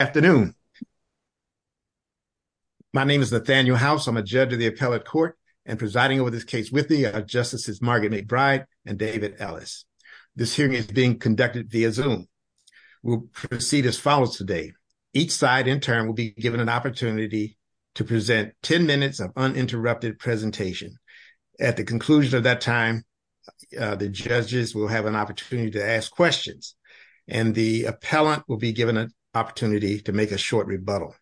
Afternoon. My name is Nathaniel House. I'm a judge of the Appellate Court and presiding over this case with me are Justices Margaret McBride and David Ellis. This hearing is being conducted via Zoom. We'll proceed as follows today. Each side intern will be given an opportunity to present 10 minutes of uninterrupted presentation. At the conclusion of that time, the judges will have an opportunity to ask questions and the appellant will be given an opportunity to make a short rebuttal.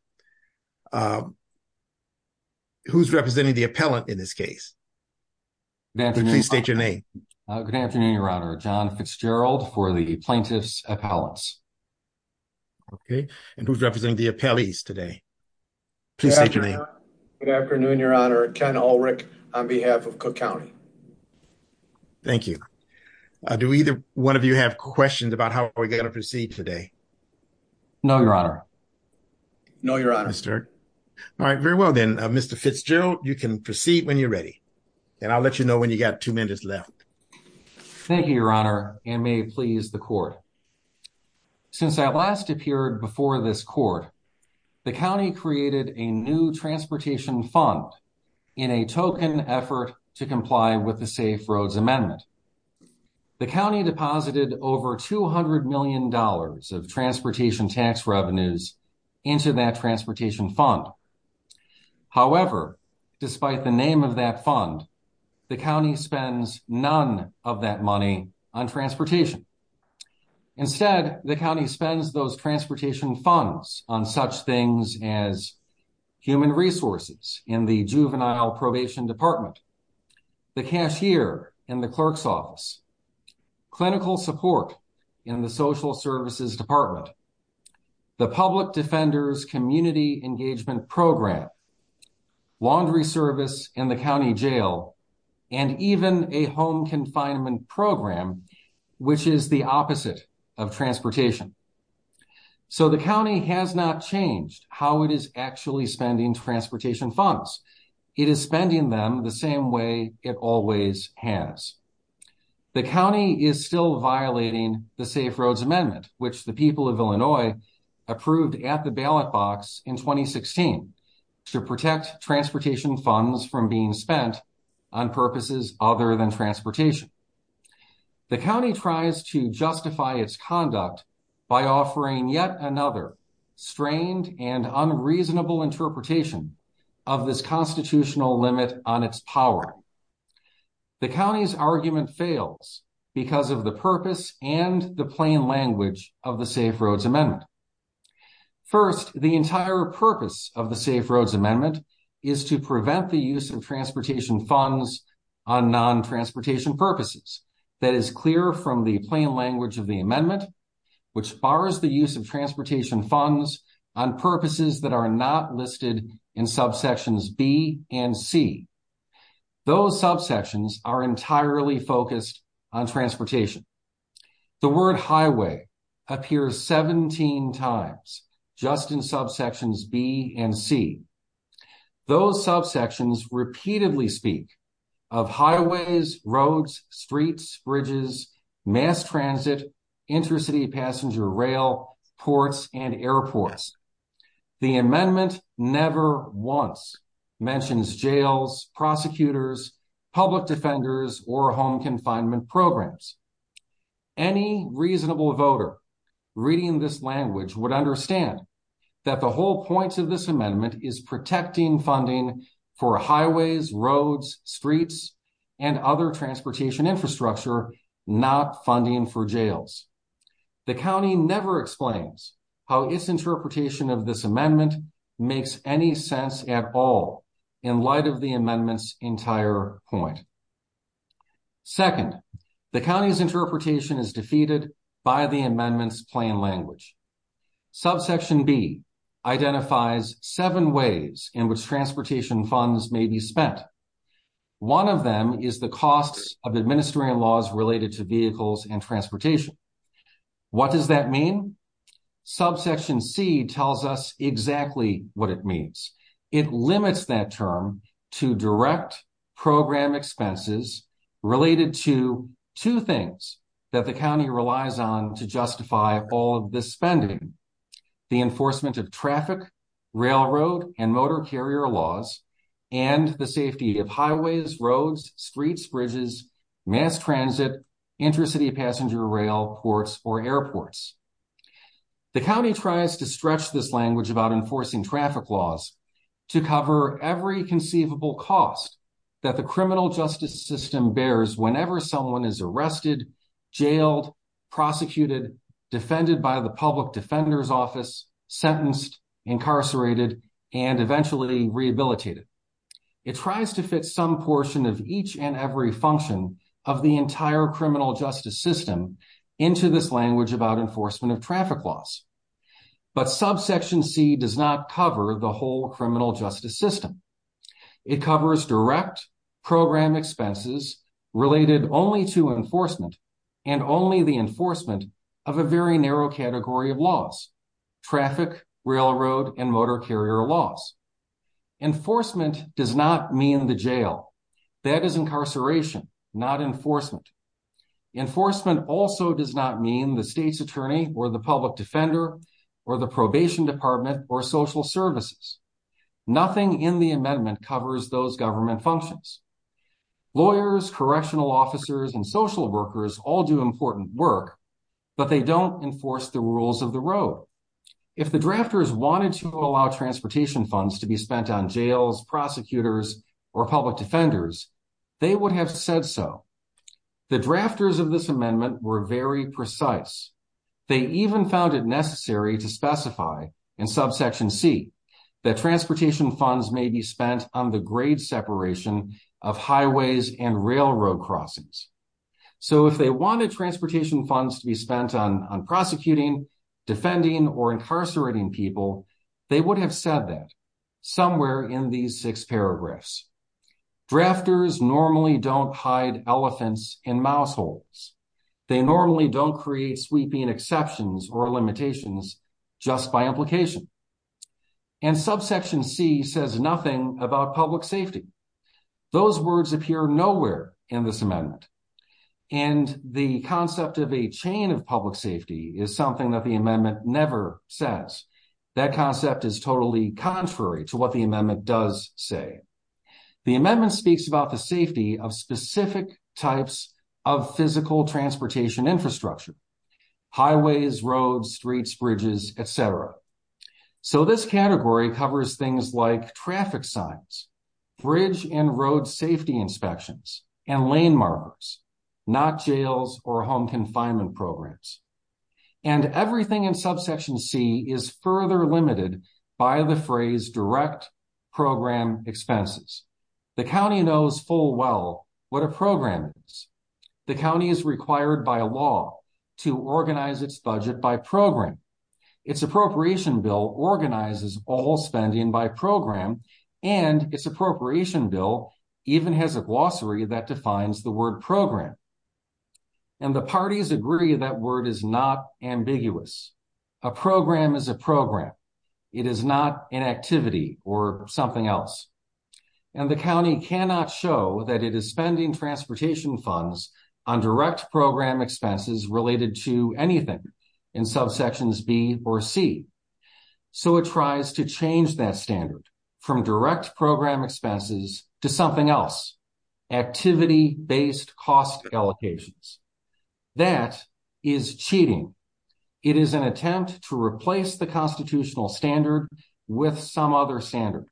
Who's representing the appellant in this case? Please state your name. Good afternoon, Your Honor. John Fitzgerald for the plaintiff's appellants. Okay, and who's representing the appellees today? Good afternoon, Your Honor. Ken Ulrich on behalf of Cook County. Thank you. Do either one of you have questions about how we're going to proceed today? No, Your Honor. No, Your Honor. All right, very well then, Mr. Fitzgerald, you can proceed when you're ready and I'll let you know when you got two minutes left. Thank you, Your Honor, and may it please the court. Since I last appeared before this court, the county created a new transportation fund in a token effort to comply with the Safe Roads Amendment. The county deposited over 200 million dollars of transportation tax revenues into that transportation fund. However, despite the name of that fund, the county spends none of that money on transportation. Instead, the county spends those transportation funds on such things as human resources in the juvenile probation department, the cashier in the clerk's office, clinical support in the social services department, the public defender's community engagement program, laundry service in the county jail, and even a home confinement program, which is the opposite of transportation. So the county has not changed how it is actually spending transportation funds. It is spending them the same way it always has. The county is still violating the Safe Roads Amendment, which the people of Illinois approved at the ballot box in 2016 to protect transportation funds from being spent on purposes other than transportation. The county tries to justify its conduct by offering yet another strained and unreasonable interpretation of this constitutional limit on its power. The county's argument fails because of the purpose and the plain language of the Safe Roads Amendment. First, the entire purpose of the Safe Roads Amendment is to prevent the use of transportation funds on non-transportation purposes. That is clear from the plain language of the amendment, which bars the use of transportation funds on purposes that are not listed in subsections B and C. Those subsections are entirely focused on transportation. The word highway appears 17 times just in subsections B and C. Those subsections repeatedly speak of highways, roads, streets, bridges, mass transit, intercity passenger rail, ports, and airports. The amendment never once mentions jails, prosecutors, public defenders, or home confinement programs. Any reasonable voter reading this language would understand that the whole point of this amendment is protecting funding for highways, roads, streets, and other transportation infrastructure, not funding for jails. The county never explains how its interpretation of this amendment makes any sense at all in light of the amendment's entire point. Second, the county's interpretation is defeated by the amendment's plain language. Subsection B identifies seven ways in which transportation funds may be spent. One of them is the costs of administering laws related to vehicles and transportation. What does that mean? Subsection C tells us exactly what it means. It limits that term to direct program expenses related to two things that the county relies on to justify all of this spending. The enforcement of traffic, railroad, and motor carrier laws, and the safety of highways, roads, streets, bridges, mass transit, intercity passenger rail, ports, or airports. The county tries to stretch this language about enforcing traffic laws to cover every conceivable cost that the criminal justice system bears whenever someone is arrested, jailed, prosecuted, defended by the public defender's office, sentenced, incarcerated, and eventually rehabilitated. It tries to fit some portion of each and every function of the entire criminal justice system into this language about enforcement of traffic laws. But subsection C does not cover the whole criminal justice system. It covers direct program expenses related only to enforcement and only the enforcement of a very narrow category of laws. Traffic, railroad, and motor carrier laws. Enforcement does not mean the jail. That is incarceration, not enforcement. Enforcement also does not mean the state's attorney or the public defender or the probation department or social services. Nothing in the amendment covers those government functions. Lawyers, correctional officers, and social workers all do important work, but they don't enforce the rules of the road. If the drafters wanted to allow transportation funds to be spent on jails, prosecutors, or public defenders, they would have said so. The drafters of this amendment were very precise. They even found it necessary to specify in subsection C that transportation funds may be spent on the grade separation of highways and railroad crossings. So, if they wanted transportation funds to be spent on prosecuting, defending, or incarcerating people, they would have said that somewhere in these six paragraphs. Drafters normally don't hide elephants in mouse holes. They normally don't create sweeping exceptions or limitations just by implication. And subsection C says nothing about public safety. Those words appear nowhere in this amendment. And the concept of a chain of public safety is something that the amendment never says. That concept is totally contrary to what the amendment does say. The amendment speaks about the safety of specific types of physical transportation infrastructure. Highways, roads, streets, bridges, etc. So, this category covers things like traffic signs, bridge and road safety inspections, and lane markers, not jails or home confinement programs. And everything in subsection C is further limited by the phrase direct program expenses. The county knows full well what a program is. The county is required by law to organize its budget by program. Its appropriation bill organizes all spending by program. And its appropriation bill even has a glossary that defines the word program. And the parties agree that word is not ambiguous. A program is a program. It is not an activity or something else. And the county cannot show that it is spending transportation funds on direct program expenses related to anything in subsections B or C. So, it tries to change that standard from direct program expenses to something else. Activity based cost allocations. That is cheating. It is an attempt to replace the constitutional standard with some other standards.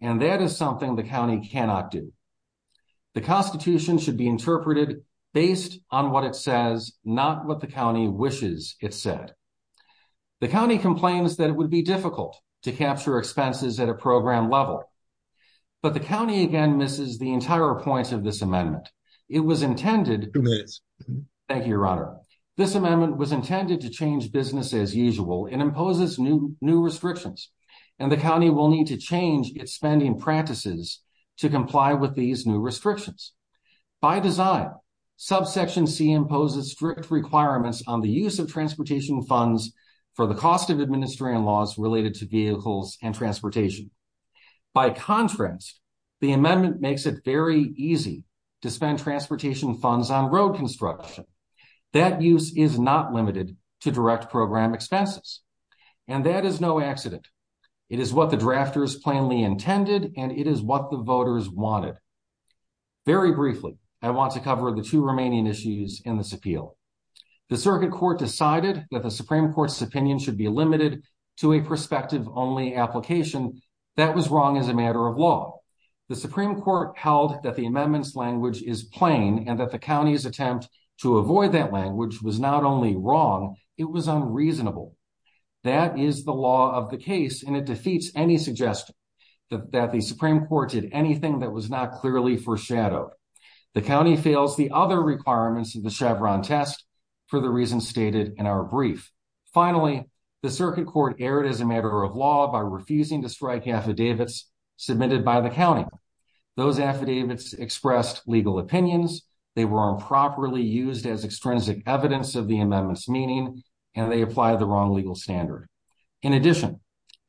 That is something the county cannot do. The constitution should be interpreted based on what it says, not what the county wishes it said. The county complains that it would be difficult to capture expenses at a program level. But the county again misses the entire point of this amendment. It was intended. Thank you, your honor. This amendment was intended to change business as usual and imposes new restrictions. And the county will need to change its spending practices to comply with these new restrictions. By design, subsection C imposes strict requirements on the use of transportation funds for the cost of administering laws related to vehicles and transportation. By contrast, the amendment makes it very easy to spend transportation funds on road construction. That use is not limited to direct program expenses. And that is no accident. It is what the drafters plainly intended and it is what the voters wanted. Very briefly, I want to cover the two remaining issues in this appeal. The circuit court decided that the Supreme Court's opinion should be limited to a perspective only application. That was wrong as a matter of law. The Supreme Court held that the amendments language is plain and that the county's attempt to avoid that language was not only wrong, it was unreasonable. That is the law of the case and it defeats any suggestion that the Supreme Court did anything that was not clearly foreshadowed. The county fails the other requirements of the Chevron test for the reasons stated in our brief. Finally, the circuit court erred as a matter of law by refusing to strike affidavits submitted by the county. Those affidavits expressed legal opinions. They were improperly used as extrinsic evidence of the amendments meaning, and they apply the wrong legal standard. In addition,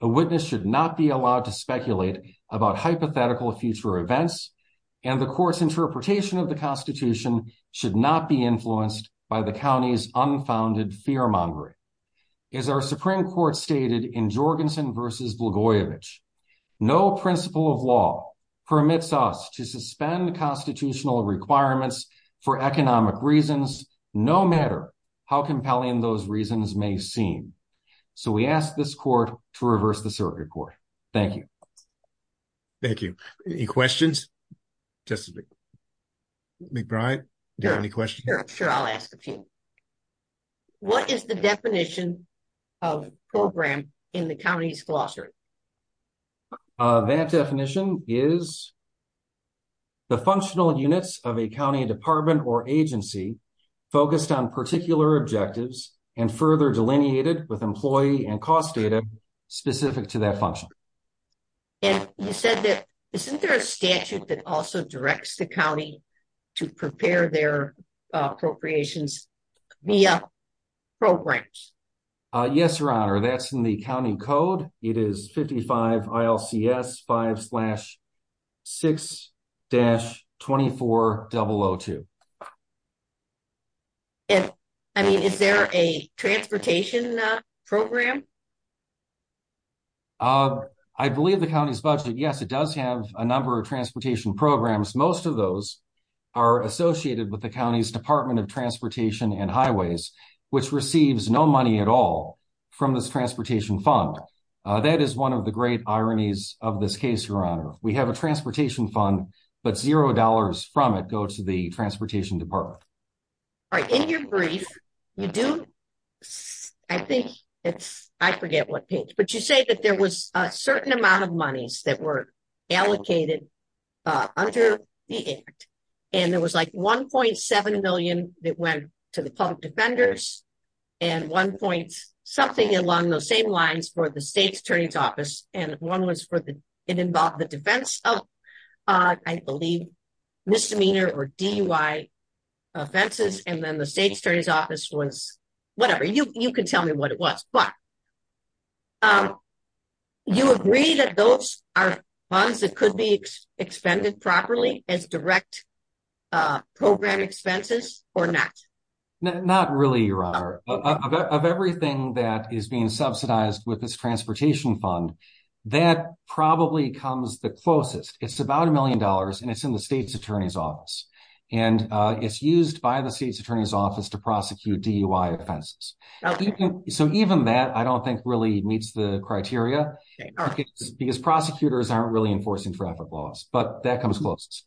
the witness should not be allowed to speculate about hypothetical future events. And the course interpretation of the Constitution should not be influenced by the county's unfounded fear mongering. As our Supreme Court stated in Jorgensen versus Blagojevich, no principle of law permits us to suspend the constitutional requirements for economic reasons, no matter how compelling those reasons may seem. So, we ask this court to reverse the circuit court. Thank you. Thank you. Any questions? McBride, any questions? Sure, I'll ask the team. What is the definition of program in the county's glossary? That definition is the functional units of a county department or agency focused on particular objectives and further delineated with employee and cost data specific to that function. You said that, isn't there a statute that also directs the county to prepare their appropriations via programs? Yes, Your Honor, that's in the county code. It is 55 ILCS 5-6-24002. Is there a transportation program? I believe the county's budget, yes, it does have a number of transportation programs. Most of those are associated with the county's Department of Transportation and Highways, which receives no money at all from this transportation fund. That is one of the great ironies of this case, Your Honor. We have a transportation fund, but zero dollars from it go to the transportation department. All right, in your brief, you do, I think it's, I forget what page, but you say that there was a certain amount of monies that were allocated under the act. And there was like 1.7 million that went to the public defenders and 1 point something along those same lines for the state attorney's office. And one was for the, it involved the defense of, I believe, misdemeanor or DUI offenses. And then the state attorney's office was, whatever, you can tell me what it was. But you agree that those are funds that could be expended properly as direct program expenses or not? Not really, Your Honor. Of everything that is being subsidized with this transportation fund, that probably comes the closest. It's about a million dollars and it's in the state's attorney's office. And it's used by the state's attorney's office to prosecute DUI offenses. So even that, I don't think really meets the criteria because prosecutors aren't really enforcing traffic laws, but that comes closest.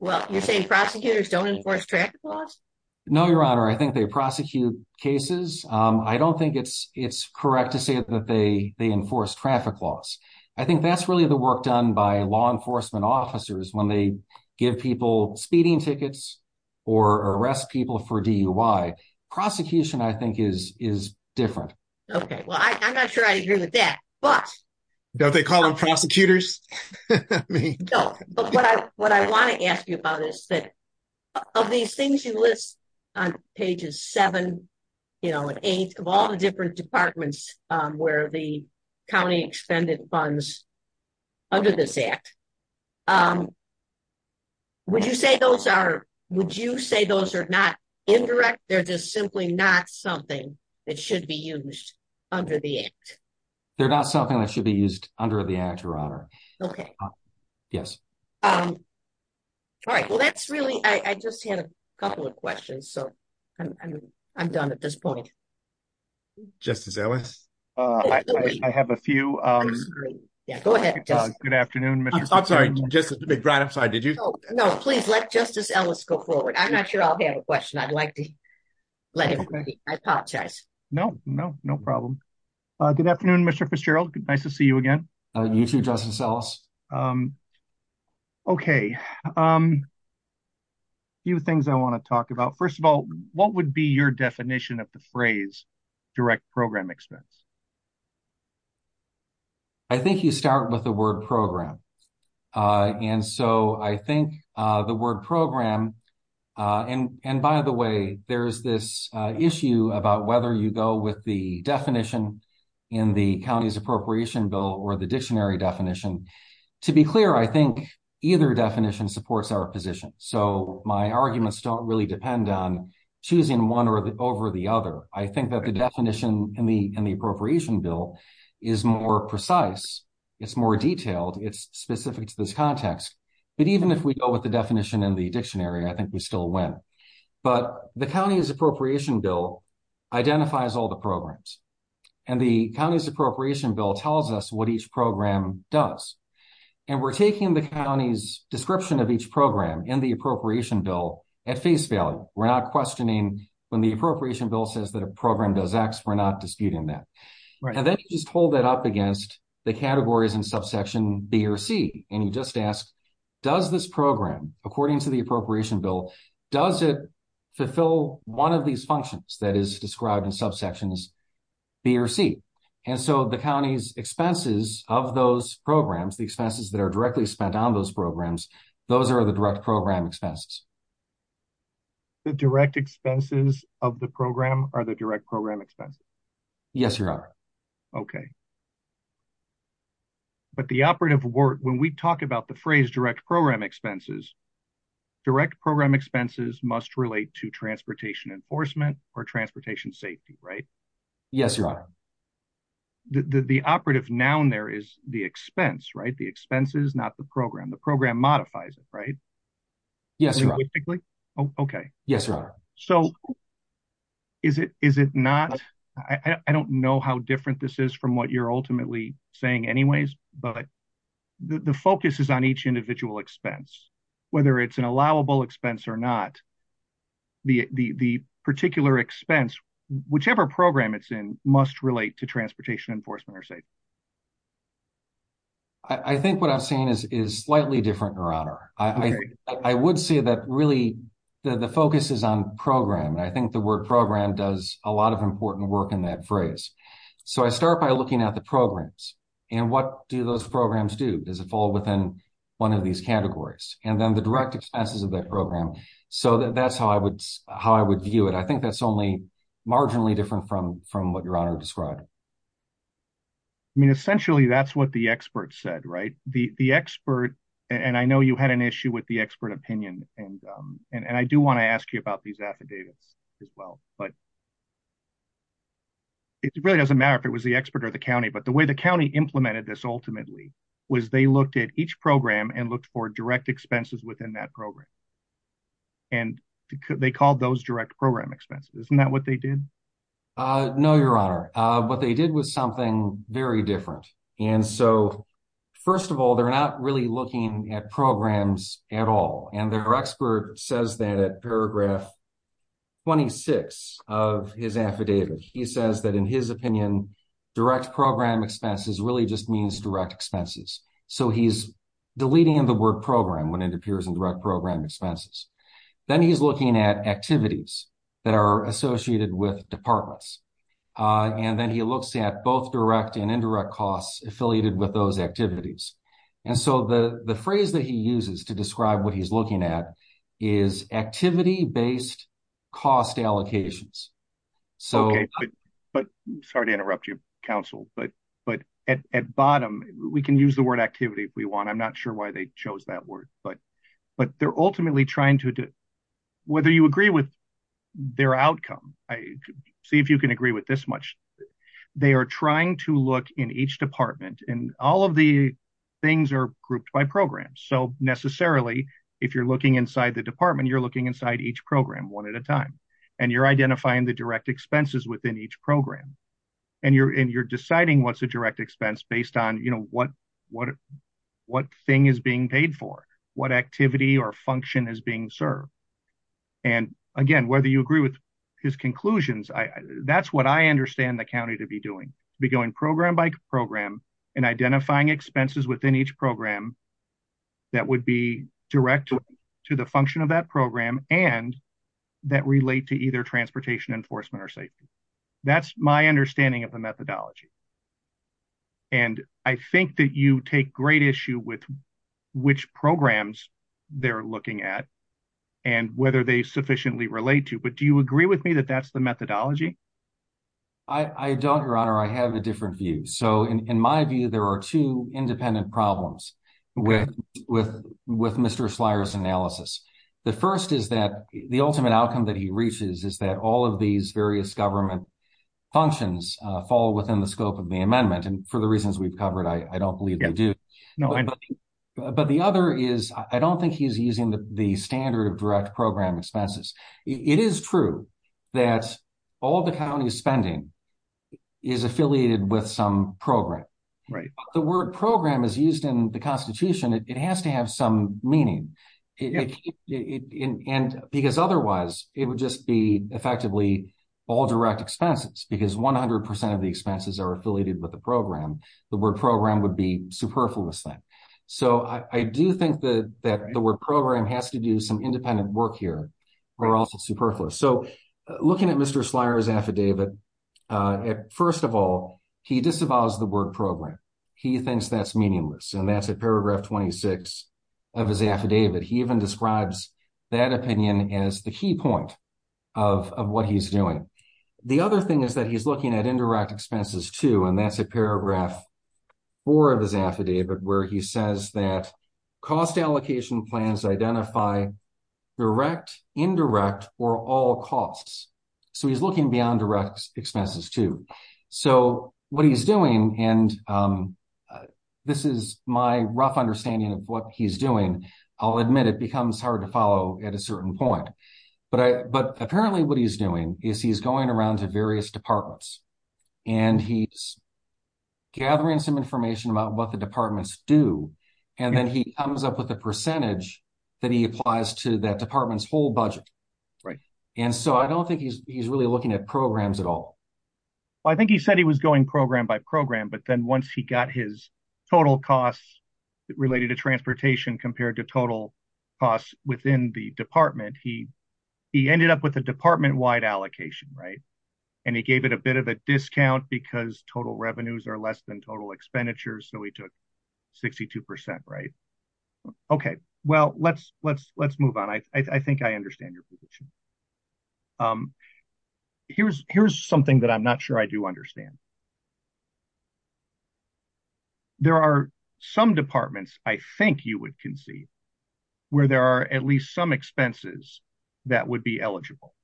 Well, you're saying prosecutors don't enforce traffic laws? No, Your Honor, I think they prosecute cases. I don't think it's correct to say that they enforce traffic laws. I think that's really the work done by law enforcement officers when they give people speeding tickets or arrest people for DUI. Prosecution, I think, is different. Okay, well, I'm not sure I agree with that, but. Don't they call them prosecutors? No, but what I want to ask you about is that of these things you list on pages 7 and 8 of all the different departments where the county expended funds under this Act, would you say those are not indirect? They're just simply not something that should be used under the Act? They're not something that should be used under the Act, Your Honor. Okay. Yes. All right, well, that's really, I just had a couple of questions, so I'm done at this point. Justice Ellis, I have a few. Yeah, go ahead. Good afternoon, Mr. I'm sorry, Justice McBride, I'm sorry, did you? No, please let Justice Ellis go forward. I'm not sure I'll have a question. I'd like to let him, I apologize. No, no, no problem. Good afternoon, Mr. Fitzgerald. Nice to see you again. You too, Justice Ellis. Okay. A few things I want to talk about. First of all, what would be your definition of the phrase direct program expense? I think you start with the word program. And so I think the word program, and by the way, there's this issue about whether you go with the definition in the county's appropriation bill or the dictionary definition. To be clear, I think either definition supports our position, so my arguments don't really depend on choosing one over the other. I think that the definition in the appropriation bill is more precise. It's more detailed. It's specific to this context. But even if we go with the definition in the dictionary, I think we still win. But the county's appropriation bill identifies all the programs, and the county's appropriation bill tells us what each program does. And we're taking the county's description of each program in the appropriation bill at face value. We're not questioning when the appropriation bill says that a program does X, we're not disputing that. And then you just hold that up against the categories in subsection B or C. And you just ask, does this program, according to the appropriation bill, does it fulfill one of these functions that is described in subsections B or C? And so the county's expenses of those programs, the expenses that are directly spent on those programs, those are the direct program expenses. The direct expenses of the program are the direct program expenses? Yes, Your Honor. Okay. But the operative word, when we talk about the phrase direct program expenses, direct program expenses must relate to transportation enforcement or transportation safety, right? Yes, Your Honor. The operative noun there is the expense, right? The expenses, not the program. The program modifies it, right? Yes, Your Honor. Okay. Yes, Your Honor. So is it not, I don't know how different this is from what you're ultimately saying anyways, but the focus is on each individual expense. Whether it's an allowable expense or not, the particular expense, whichever program it's in, must relate to transportation enforcement or safety. I think what I'm saying is slightly different, Your Honor. I would say that really the focus is on program. I think the word program does a lot of important work in that phrase. So I start by looking at the programs. And what do those programs do? Does it fall within one of these categories? And then the direct expenses of that program. So that's how I would view it. I think that's only marginally different from what Your Honor described. I mean, essentially, that's what the expert said, right? The expert, and I know you had an issue with the expert opinion, and I do want to ask you about these affidavits as well. But it really doesn't matter if it was the expert or the county. But the way the county implemented this ultimately was they looked at each program and looked for direct expenses within that program. And they called those direct program expenses. Isn't that what they did? No, Your Honor. What they did was something very different. And so, first of all, they're not really looking at programs at all. And their expert says that at paragraph 26 of his affidavit. He says that in his opinion, direct program expenses really just means direct expenses. So he's deleting the word program when it appears in direct program expenses. Then he's looking at activities that are associated with departments. And then he looks at both direct and indirect costs affiliated with those activities. And so the phrase that he uses to describe what he's looking at is activity-based cost allocations. Okay. Sorry to interrupt you, counsel. But at bottom, we can use the word activity if we want. I'm not sure why they chose that word. But they're ultimately trying to do – whether you agree with their outcome. See if you can agree with this much. They are trying to look in each department. And all of the things are grouped by programs. So necessarily, if you're looking inside the department, you're looking inside each program one at a time. And you're identifying the direct expenses within each program. And you're deciding what's a direct expense based on, you know, what thing is being paid for. What activity or function is being served. And, again, whether you agree with his conclusions, that's what I understand the county to be doing. Be going program by program and identifying expenses within each program that would be direct to the function of that program and that relate to either transportation enforcement or safety. That's my understanding of the methodology. And I think that you take great issue with which programs they're looking at and whether they sufficiently relate to. But do you agree with me that that's the methodology? I don't, Your Honor. I have a different view. So in my view, there are two independent problems with Mr. Slyer's analysis. The first is that the ultimate outcome that he reaches is that all of these various government functions fall within the scope of the amendment. And for the reasons we've covered, I don't believe they do. But the other is I don't think he's using the standard of direct program expenses. It is true that all the county spending is affiliated with some program. The word program is used in the Constitution. It has to have some meaning. And because otherwise, it would just be effectively all direct expenses because 100% of the expenses are affiliated with the program. The word program would be superfluous. So I do think that the word program has to do some independent work here. We're also superfluous. So looking at Mr. Slyer's affidavit, first of all, he disavows the word program. He thinks that's meaningless. And that's at paragraph 26 of his affidavit. He even describes that opinion as the key point of what he's doing. The other thing is that he's looking at indirect expenses, too, and that's at paragraph 4 of his affidavit where he says that cost allocation plans identify direct, indirect, or all costs. So he's looking beyond direct expenses, too. So what he's doing, and this is my rough understanding of what he's doing. I'll admit it becomes hard to follow at a certain point. But apparently what he's doing is he's going around to various departments, and he's gathering some information about what the departments do. And then he comes up with a percentage that he applies to that department's full budget. And so I don't think he's really looking at programs at all. I think he said he was going program by program, but then once he got his total costs related to transportation compared to total costs within the department, he ended up with a department-wide allocation, right? And he gave it a bit of a discount because total revenues are less than total expenditures, so he took 62%, right? Okay. Well, let's move on. I think I understand your position. Here's something that I'm not sure I do understand. There are some departments I think you would concede where there are at least some expenses that would be eligible.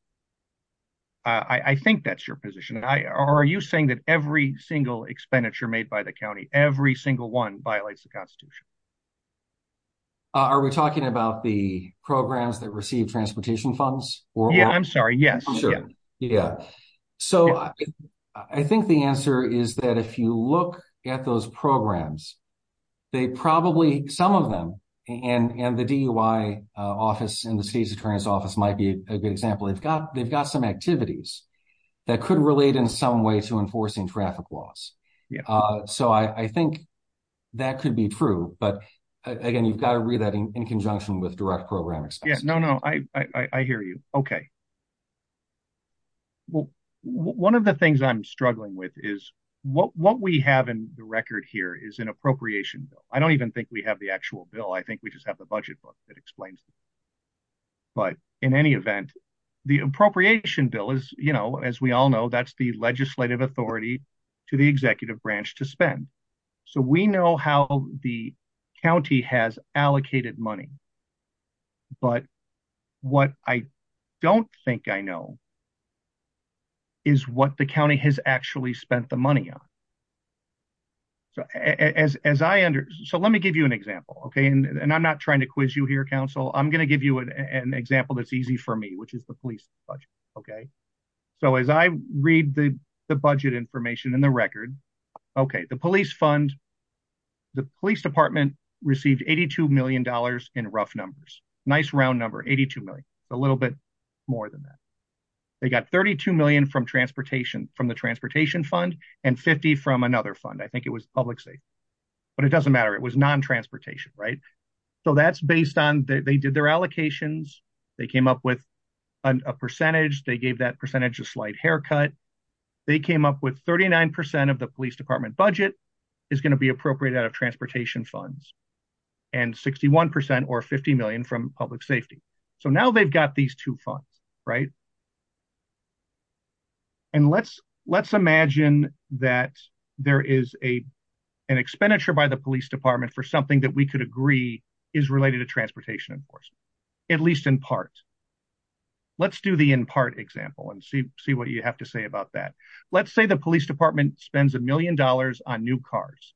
I think that's your position. Are you saying that every single expenditure made by the county, every single one, violates the Constitution? Are we talking about the programs that receive transportation funds? Yeah, I'm sorry. Yeah, sure. Yeah. So, I think the answer is that if you look at those programs, they probably, some of them, and the DUI office and the species clearance office might be a good example. They've got some activities that could relate in some way to enforcing traffic laws. So, I think that could be true, but, again, you've got to read that in conjunction with direct program expenses. Yeah, no, no. I hear you. Okay. Well, one of the things I'm struggling with is what we have in the record here is an appropriation bill. I don't even think we have the actual bill. I think we just have the budget book that explains it. But, in any event, the appropriation bill is, you know, as we all know, that's the legislative authority to the executive branch to spend. So, we know how the county has allocated money, but what I don't think I know is what the county has actually spent the money on. So, let me give you an example, okay? And I'm not trying to quiz you here, counsel. I'm going to give you an example that's easy for me, which is the police budget, okay? So, as I read the budget information in the record, okay, the police fund, the police department received $82 million in rough numbers. Nice round number, $82 million. A little bit more than that. They got $32 million from the transportation fund and $50 from another fund. I think it was public safety. But it doesn't matter. It was non-transportation, right? So, that's based on they did their allocations. They came up with a percentage. They gave that percentage a slight haircut. They came up with 39% of the police department budget is going to be appropriated out of transportation funds and 61% or $50 million from public safety. So, now they've got these two funds, right? And let's imagine that there is an expenditure by the police department for something that we could agree is related to transportation enforcement, at least in part. Let's do the in part example and see what you have to say about that. Let's say the police department spends $1 million on new cars.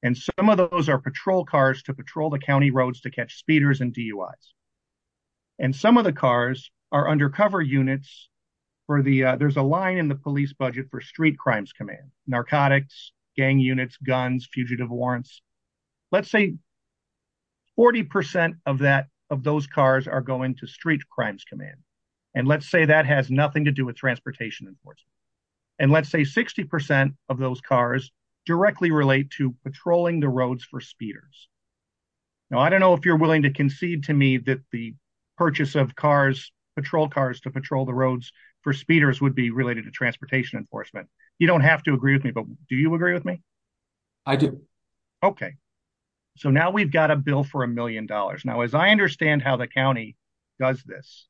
And some of those are patrol cars to patrol the county roads to catch speeders and DUIs. And some of the cars are undercover units. There's a line in the police budget for street crimes command, narcotics, gang units, guns, fugitive warrants. Let's say 40% of those cars are going to street crimes command. And let's say that has nothing to do with transportation enforcement. And let's say 60% of those cars directly relate to patrolling the roads for speeders. Now, I don't know if you're willing to concede to me that the purchase of patrol cars to patrol the roads for speeders would be related to transportation enforcement. You don't have to agree with me, but do you agree with me? I do. Okay. So, now we've got a bill for $1 million. Now, as I understand how the county does this,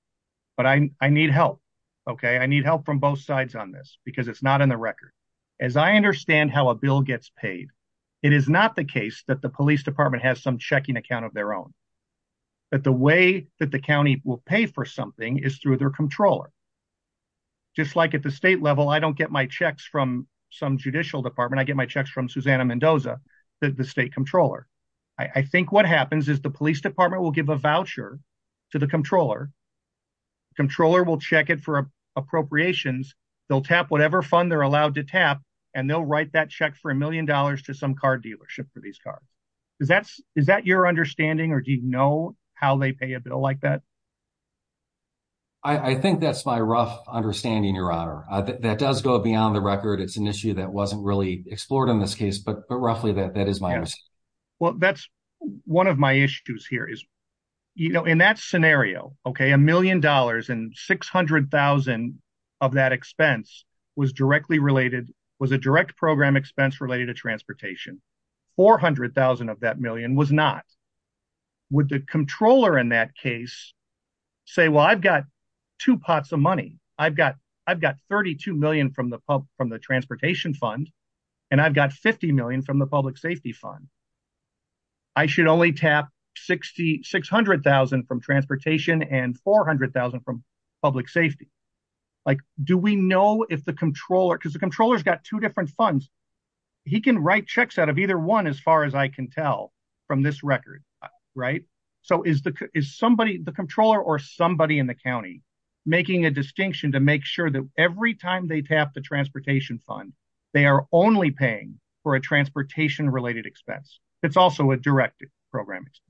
but I need help. Okay. I need help from both sides on this because it's not in the record. As I understand how a bill gets paid, it is not the case that the police department has some checking account of their own. But the way that the county will pay for something is through their controller. Just like at the state level, I don't get my checks from some judicial department. I get my checks from Susanna Mendoza, the state controller. I think what happens is the police department will give a voucher to the controller. Controller will check it for appropriations. They'll tap whatever fund they're allowed to tap, and they'll write that check for $1 million to some car dealership for these cars. Is that your understanding, or do you know how they pay a bill like that? I think that's my rough understanding, Your Honor. That does go beyond the record. It's an issue that wasn't really explored in this case, but roughly that is my understanding. Well, that's one of my issues here is, you know, in that scenario, okay, $1 million and $600,000 of that expense was a direct program expense related to transportation. $400,000 of that million was not. Would the controller in that case say, well, I've got two pots of money. I've got $32 million from the transportation fund, and I've got $50 million from the public safety fund. I should only tap $600,000 from transportation and $400,000 from public safety. Do we know if the controller, because the controller's got two different funds, he can write checks out of either one as far as I can tell from this record, right? So, is the controller or somebody in the county making a distinction to make sure that every time they tap the transportation fund, they are only paying for a transportation related expense? It's also a direct program expense.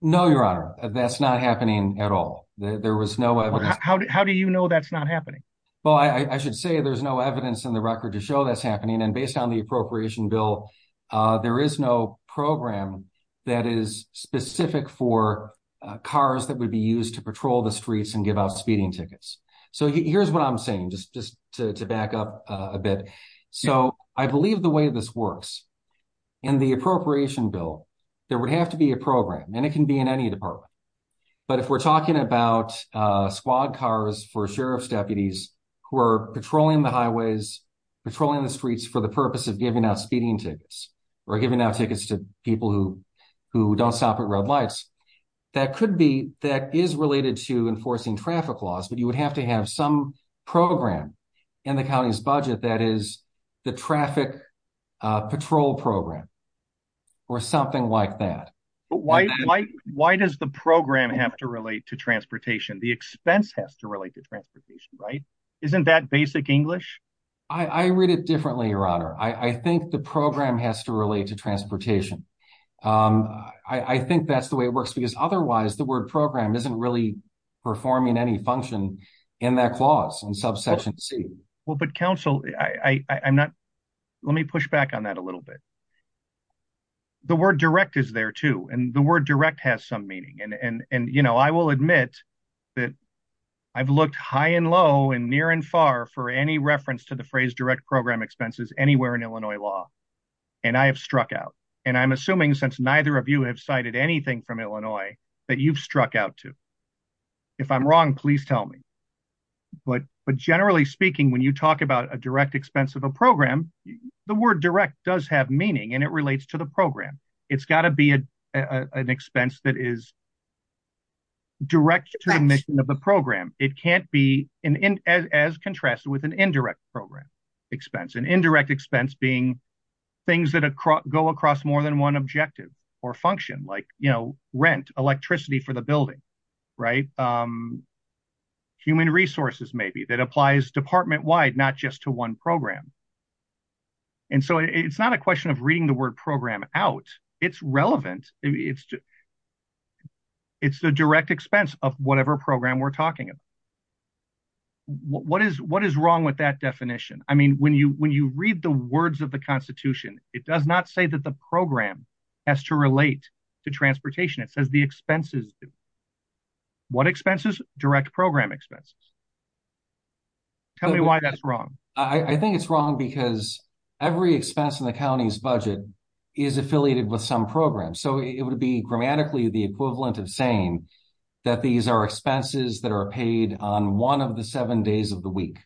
No, Your Honor. That's not happening at all. There was no evidence. How do you know that's not happening? Well, I should say there's no evidence in the record to show that's happening. And based on the appropriation bill, there is no program that is specific for cars that would be used to patrol the streets and give out speeding tickets. So, here's what I'm saying, just to back up a bit. So, I believe the way this works in the appropriation bill, there would have to be a program, and it can be in any department. But if we're talking about squad cars for sheriff's deputies who are patrolling the highways, patrolling the streets for the purpose of giving out speeding tickets, or giving out tickets to people who don't stop at red lights, that could be, that is related to enforcing traffic laws, but you would have to have some program in the county's budget that is the traffic patrol program or something like that. Why does the program have to relate to transportation? The expense has to relate to transportation, right? Isn't that basic English? I read it differently, Your Honor. I think the program has to relate to transportation. I think that's the way it works because otherwise the word program isn't really performing any function in that clause in subsection C. Well, but counsel, I'm not, let me push back on that a little bit. The word direct is there too, and the word direct has some meaning. And, you know, I will admit that I've looked high and low and near and far for any reference to the phrase direct program expenses anywhere in Illinois law, and I have struck out. And I'm assuming since neither of you have cited anything from Illinois that you've struck out to. If I'm wrong, please tell me. But generally speaking, when you talk about a direct expense of a program, the word direct does have meaning and it relates to the program. It's got to be an expense that is direct to the mission of the program. It can't be as contrasted with an indirect program expense. An indirect expense being things that go across more than one objective or function, like, you know, rent, electricity for the building, right? Human resources, maybe, that applies department-wide, not just to one program. And so it's not a question of reading the word program out. It's relevant. It's the direct expense of whatever program we're talking about. What is wrong with that definition? I mean, when you read the words of the Constitution, it does not say that the program has to relate to transportation. It says the expenses. What expenses? Direct program expenses. Tell me why that's wrong. I think it's wrong because every expense in the county's budget is affiliated with some program. So it would be grammatically the equivalent of saying that these are expenses that are paid on one of the seven days of the week.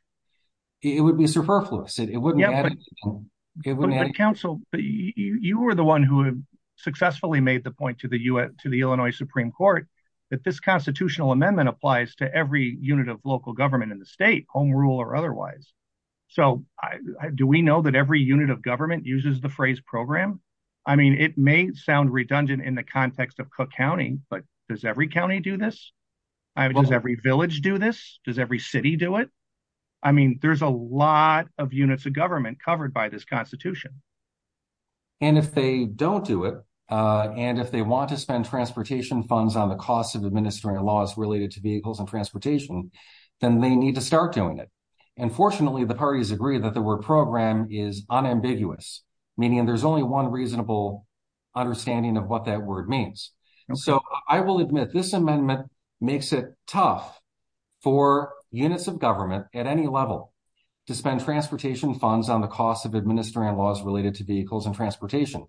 It would be surplus. It wouldn't add. Council, you were the one who successfully made the point to the Illinois Supreme Court that this constitutional amendment applies to every unit of local government in the state, home rule or otherwise. So do we know that every unit of government uses the phrase program? I mean, it may sound redundant in the context of Cook County, but does every county do this? Does every village do this? Does every city do it? I mean, there's a lot of units of government covered by this Constitution. And if they don't do it, and if they want to spend transportation funds on the cost of administering laws related to vehicles and transportation, then they need to start doing it. And fortunately, the parties agree that the word program is unambiguous, meaning there's only one reasonable understanding of what that word means. And so I will admit this amendment makes it tough for units of government at any level to spend transportation funds on the cost of administering laws related to vehicles and transportation.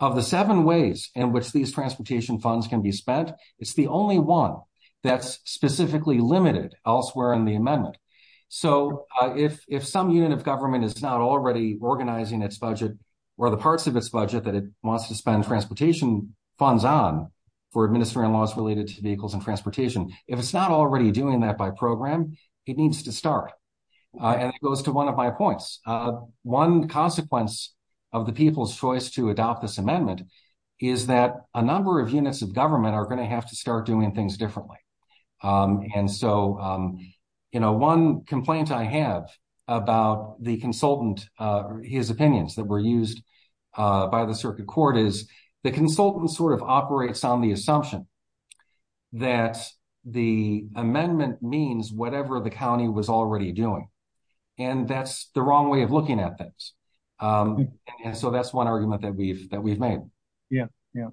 Of the seven ways in which these transportation funds can be spent, it's the only one that's specifically limited elsewhere in the amendment. So, if some unit of government is not already organizing its budget, or the parts of its budget that it wants to spend transportation funds on for administering laws related to vehicles and transportation, if it's not already doing that by program, it needs to start. As it goes to one of my points, one consequence of the people's choice to adopt this amendment is that a number of units of government are going to have to start doing things differently. And so, one complaint I have about the consultant, his opinions that were used by the circuit court is the consultant sort of operates on the assumption that the amendment means whatever the county was already doing. And that's the wrong way of looking at things. And so that's one argument that we've made. Yeah, yeah.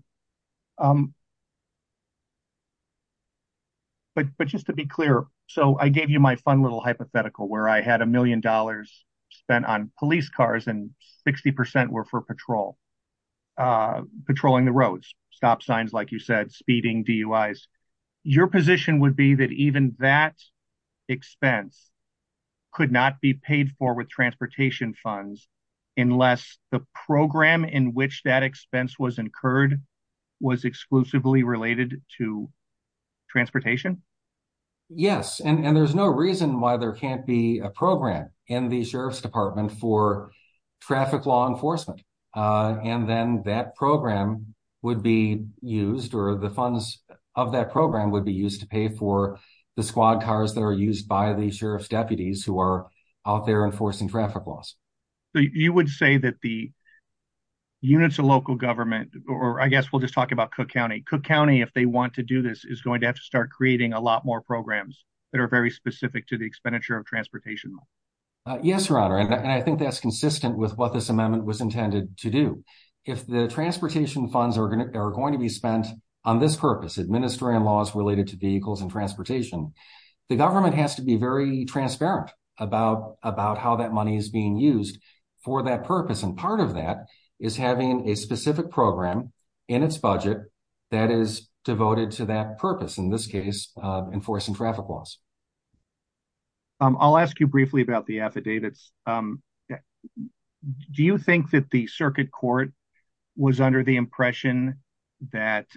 But just to be clear, so I gave you my fun little hypothetical where I had a million dollars spent on police cars and 60% were for patrol. Patrolling the roads stop signs like you said speeding DUIs, your position would be that even that expense could not be paid for with transportation funds, unless the program in which that expense was incurred was exclusively related to transportation. Yes, and there's no reason why there can't be a program in the sheriff's department for traffic law enforcement. And then that program would be used, or the funds of that program would be used to pay for the squad cars that are used by the sheriff's deputies who are out there enforcing traffic laws. You would say that the units of local government, or I guess we'll just talk about Cook County Cook County if they want to do this is going to have to start creating a lot more programs that are very specific to the expenditure of transportation. Yes, I think that's consistent with what this amendment was intended to do. If the transportation funds are going to, they're going to be spent on this purpose administering laws related to vehicles and transportation. The government has to be very transparent about about how that money is being used for that purpose and part of that is having a specific program in its budget that is devoted to that purpose in this case, enforcing traffic laws. I'll ask you briefly about the affidavits. Do you think that the circuit court was under the impression that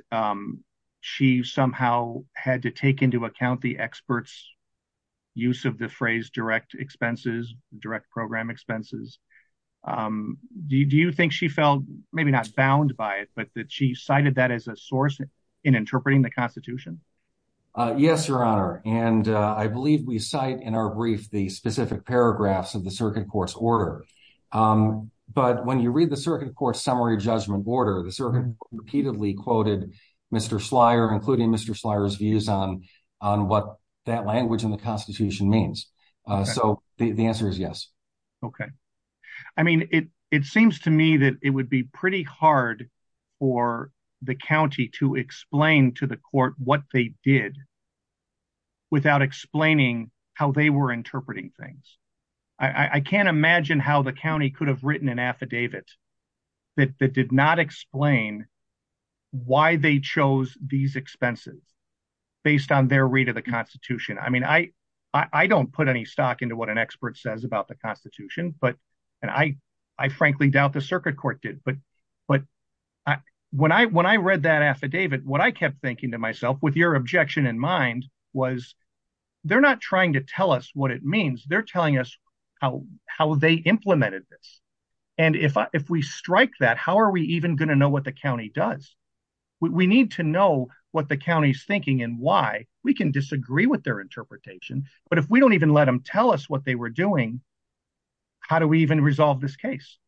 she somehow had to take into account the experts use of the phrase direct expenses direct program expenses. Do you think she felt, maybe not bound by it but that she cited that as a source in interpreting the Constitution. Yes, Your Honor, and I believe we cite in our brief the specific paragraphs of the circuit courts order. But when you read the circuit court summary judgment border the circuit repeatedly quoted Mr flyer including Mr flyers views on on what that language in the Constitution means. So, the answer is yes. Okay. I mean, it, it seems to me that it would be pretty hard for the county to explain to the court what they did without explaining how they were interpreting things. I can't imagine how the county could have written an affidavit that did not explain why they chose these expenses, based on their read of the Constitution. I mean, I, I don't put any stock into what an expert says about the Constitution, but I, I frankly doubt the circuit court did but but when I when I read that affidavit what I kept thinking to myself with your objection in mind was. They're not trying to tell us what it means they're telling us how, how they implemented this. And if we strike that how are we even going to know what the county does. We need to know what the county's thinking and why we can disagree with their interpretation, but if we don't even let them tell us what they were doing. How do we even resolve this case.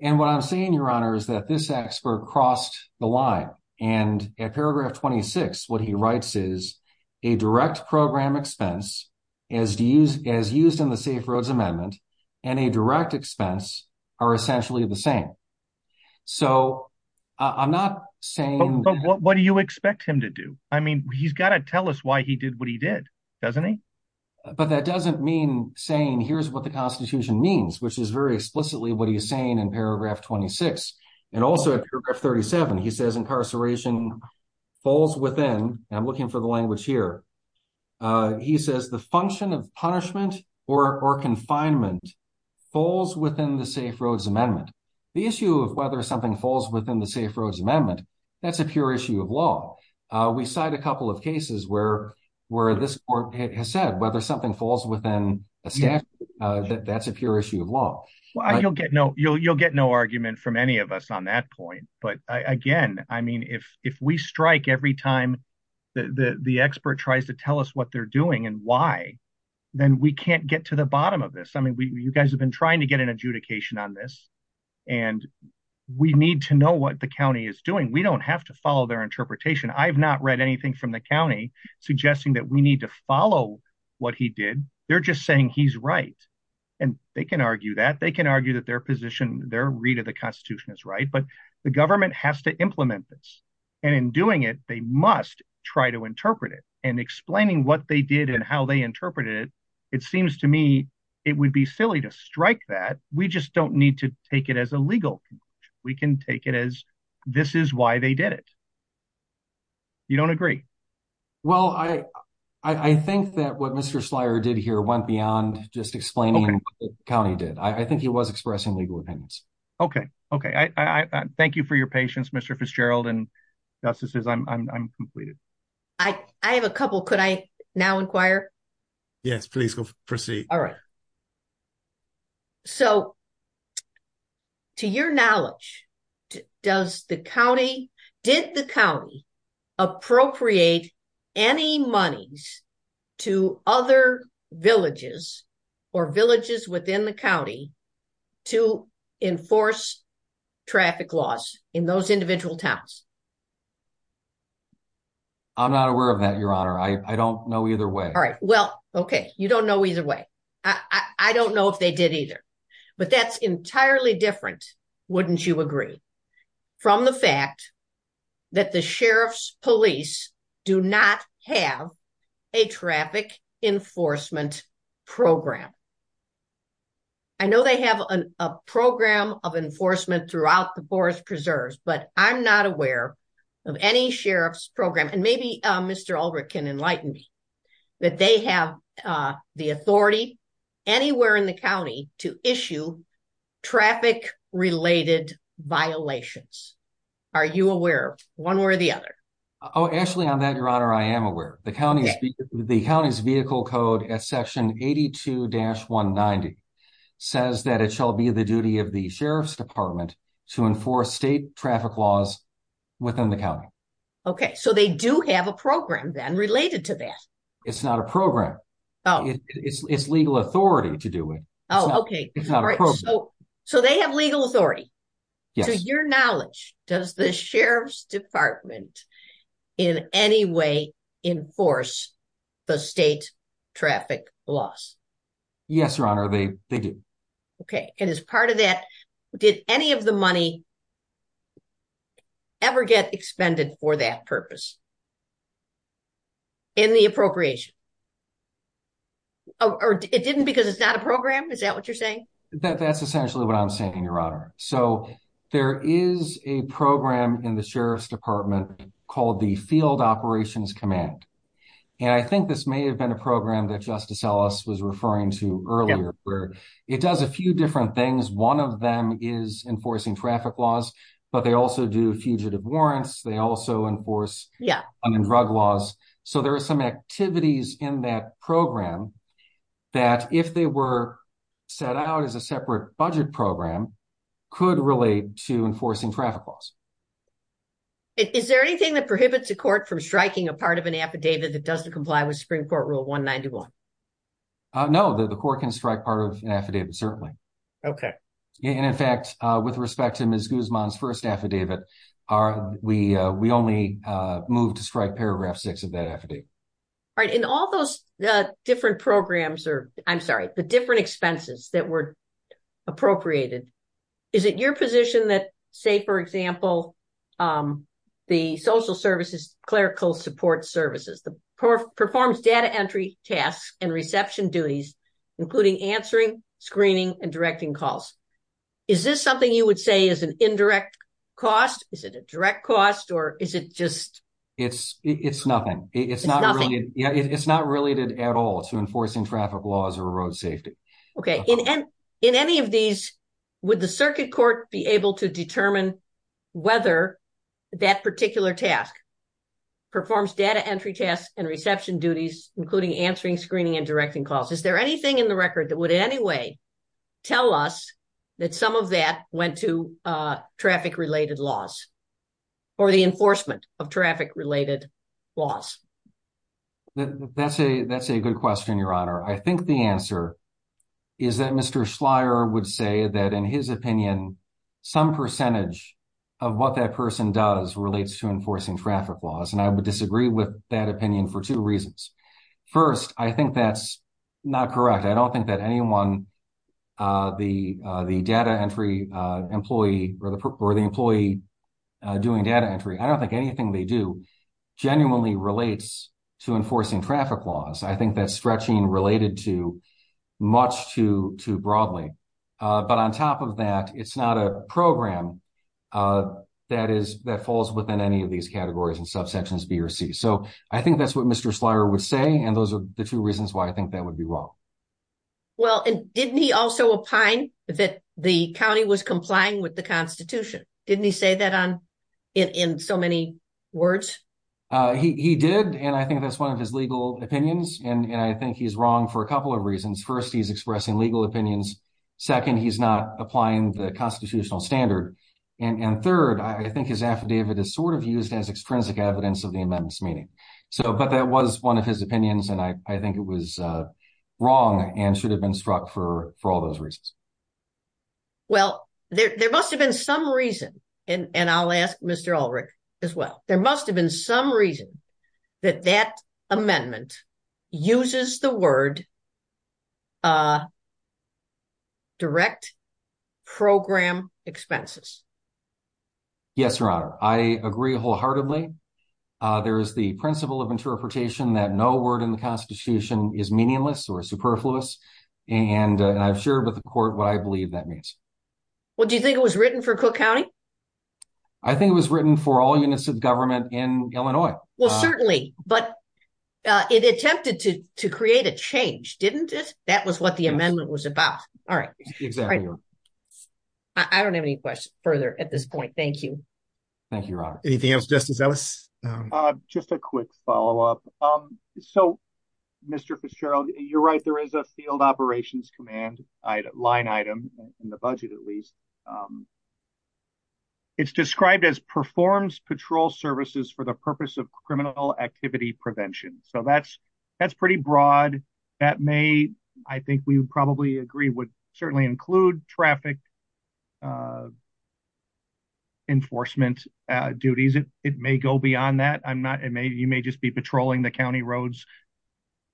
And what I'm seeing your honor is that this expert cross the line, and paragraph 26 what he writes is a direct program expense is to use as used in the safe roads amendment and a direct expense are essentially the same. So, I'm not saying what do you expect him to do. I mean, he's got to tell us why he did what he did. Doesn't he. But that doesn't mean saying here's what the Constitution means, which is very explicitly what are you saying in paragraph 26 and also 37 he says incarceration falls within and looking for the language here. He says the function of punishment or confinement falls within the safe roads amendment, the issue of whether something falls within the safe roads amendment. That's a pure issue of law. We started a couple of cases where, where this has said whether something falls within that that's a pure issue of law. Well, I don't get no you'll you'll get no argument from any of us on that point. But again, I mean, if, if we strike every time that the expert tries to tell us what they're doing and why, then we can't get to the bottom of this. I mean, you guys have been trying to get an adjudication on this. And we need to know what the county is doing. We don't have to follow their interpretation. I've not read anything from the county suggesting that we need to follow what he did. They're just saying he's right. And they can argue that they can argue that their position, their read of the Constitution is right but the government has to implement this. And in doing it, they must try to interpret it and explaining what they did and how they interpreted. It seems to me, it would be silly to strike that we just don't need to take it as a legal, we can take it as this is why they did it. You don't agree. Well, I, I think that what Mr Slyer did here went beyond just explaining county did I think he was expressing legal opinions. Okay. Okay. I thank you for your patience Mr Fitzgerald and justice is I'm completed. I have a couple could I now inquire. So, to your knowledge, does the county did the county appropriate any money to other villages or villages within the county to enforce traffic laws in those individual tasks. I'm not aware of that. Your honor. I don't know either way. All right. Well, okay. You don't know either way. I don't know if they did either, but that's entirely different. Wouldn't you agree from the fact that the sheriff's police do not have a traffic enforcement program. I know they have a program of enforcement throughout the forest preserves, but I'm not aware of any sheriff's program and maybe Mr can enlighten me that they have the authority anywhere in the county to issue traffic related violations. Are you aware one way or the other? Oh, actually, I'm not your honor. I am aware the county, the county's vehicle code at section 82 dash 190 says that it shall be the duty of the sheriff's department to enforce state traffic laws within the county. Okay, so they do have a program then related to that. It's not a program. It's legal authority to do it. Oh, okay. So they have legal authority. Your knowledge does the sheriff's department in any way enforce the state traffic loss. Yes, your honor. Okay. And as part of that, did any of the money ever get expended for that purpose in the appropriation. It didn't because it's not a program. Is that what you're saying? That's essentially what I'm saying. Your honor. So there is a program in the sheriff's department called the field operations command. And I think this may have been a program that justice Ellis was referring to earlier where it does a few different things. 1 of them is enforcing traffic laws, but they also do fugitive warrants. They also enforce drug laws. So there's some activities in that program that if they were set out as a separate budget program could relate to enforcing traffic laws. Is there anything that prohibits the court from striking a part of an affidavit that doesn't comply with spring court rule? 191. No, the, the court can strike part of an affidavit. Certainly. Okay. And in fact, with respect to Ms. Guzman's 1st affidavit, we, we only move to describe paragraph 6 of that affidavit. Right in all those different programs, or I'm sorry, the different expenses that were appropriated. Is it your position that say, for example, the social services clerical support services performs data entry tasks and reception duties, including answering screening and directing calls. Is this something you would say is an indirect cost? Is it a direct cost? Or is it just. It's, it's nothing, it's not, it's not related at all to enforcing traffic laws or road safety. Okay. And in any of these, would the circuit court be able to determine whether that particular task. Performs data entry tests and reception duties, including answering screening and directing calls. Is there anything in the record that would in any way. Tell us that some of that went to traffic related laws. Or the enforcement of traffic related loss. That's a, that's a good question. Your honor. I think the answer. Is that Mr Slyer would say that in his opinion. Some percentage of what that person does relates to enforcing traffic laws and I would disagree with that opinion for 2 reasons. 1st, I think that's not correct. I don't think that anyone. The, the data entry employee, or the, or the employee. Doing data entry, I don't think anything they do genuinely relates to enforcing traffic laws. I think that's stretching related to much to to broadly. But on top of that, it's not a program. That is that falls within any of these categories and subsections B or C. so I think that's what Mr slider would say. And those are the 2 reasons why I think that would be well. Well, and didn't he also apply that the county was complying with the Constitution? Didn't he say that on in so many words he did? And I think that's 1 of his legal opinions. And I think he's wrong for a couple of reasons. 1st, he's expressing legal opinions. 2nd, he's not applying the constitutional standard and 3rd, I think his affidavit is sort of used as extrinsic evidence of the amendments meeting. So, but that was 1 of his opinions and I, I think it was wrong and should have been struck for for all those reasons. Well, there must have been some reason and I'll ask Mr as well. There must have been some reason that that amendment uses the word. Direct program expenses. Yes, your honor. I agree wholeheartedly. There is the principle of interpretation that no word in the Constitution is meaningless or superfluous and I've shared with the court what I believe that means. What do you think it was written for cook county? I think it was written for all units of government in Illinois. Well, certainly, but it attempted to to create a change. Didn't that was what the amendment was about. All right. I don't have any questions further at this point. Thank you. Thank you. Anything else justice. Just a quick follow up. So, Mr Fitzgerald, you're right. There is a field operations command line item in the budget at least. It's described as performs patrol services for the purpose of criminal activity prevention. So that's, that's pretty broad. That may, I think we would probably agree would certainly include traffic. Enforcement duties, it may go beyond that. I'm not it may you may just be patrolling the county roads,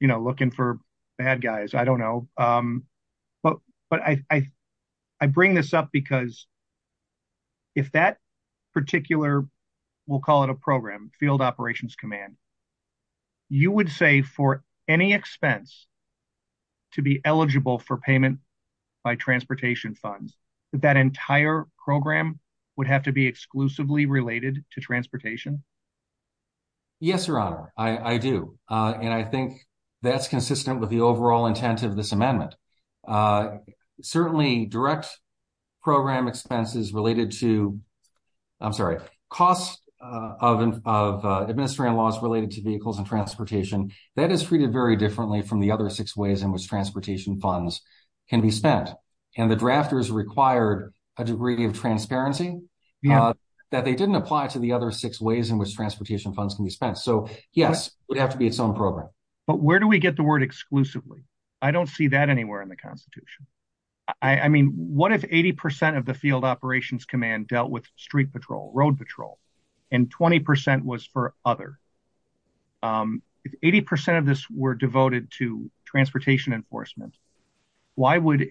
you know, looking for bad guys. I don't know. But, but I, I bring this up because if that particular, we'll call it a program field operations command. You would say for any expense to be eligible for payment by transportation funds that entire program would have to be exclusively related to transportation. Yes, I do. And I think that's consistent with the overall intent of this amendment. Certainly direct program expenses related to. I'm sorry, costs of administrative laws related to vehicles and transportation that is treated very differently from the other 6 ways in which transportation funds can be spent. And the drafters required a degree of transparency that they didn't apply to the other 6 ways in which transportation funds can be spent. So, yes, we have to be some program. But where do we get the word exclusively. I don't see that anywhere in the Constitution. I mean, what if 80% of the field operations command dealt with street patrol road patrol and 20% was for other 80% of this were devoted to transportation enforcement. Why would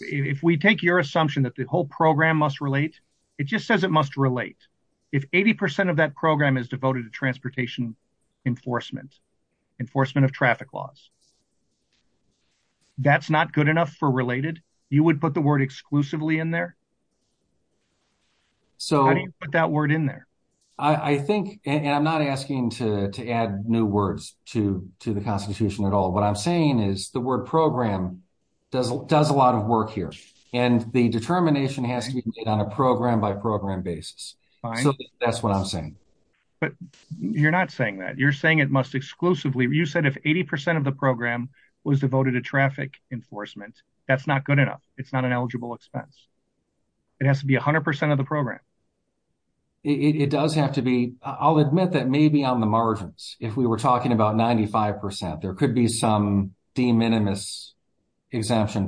if we take your assumption that the whole program must relate it just says it must relate if 80% of that program is devoted to transportation enforcement enforcement of traffic laws. That's not good enough for related. You would put the word exclusively in there. So, put that word in there. I think I'm not asking to add new words to to the Constitution at all. What I'm saying is the word program does does a lot of work here and the determination has to be on a program by program basis. That's what I'm saying, but you're not saying that you're saying it must exclusively. You said if 80% of the program was devoted to traffic enforcement. That's not good enough. It's not an eligible expense. It has to be 100% of the program. It does have to be. I'll admit that maybe on the margins. If we were talking about 95%, there could be some de minimis.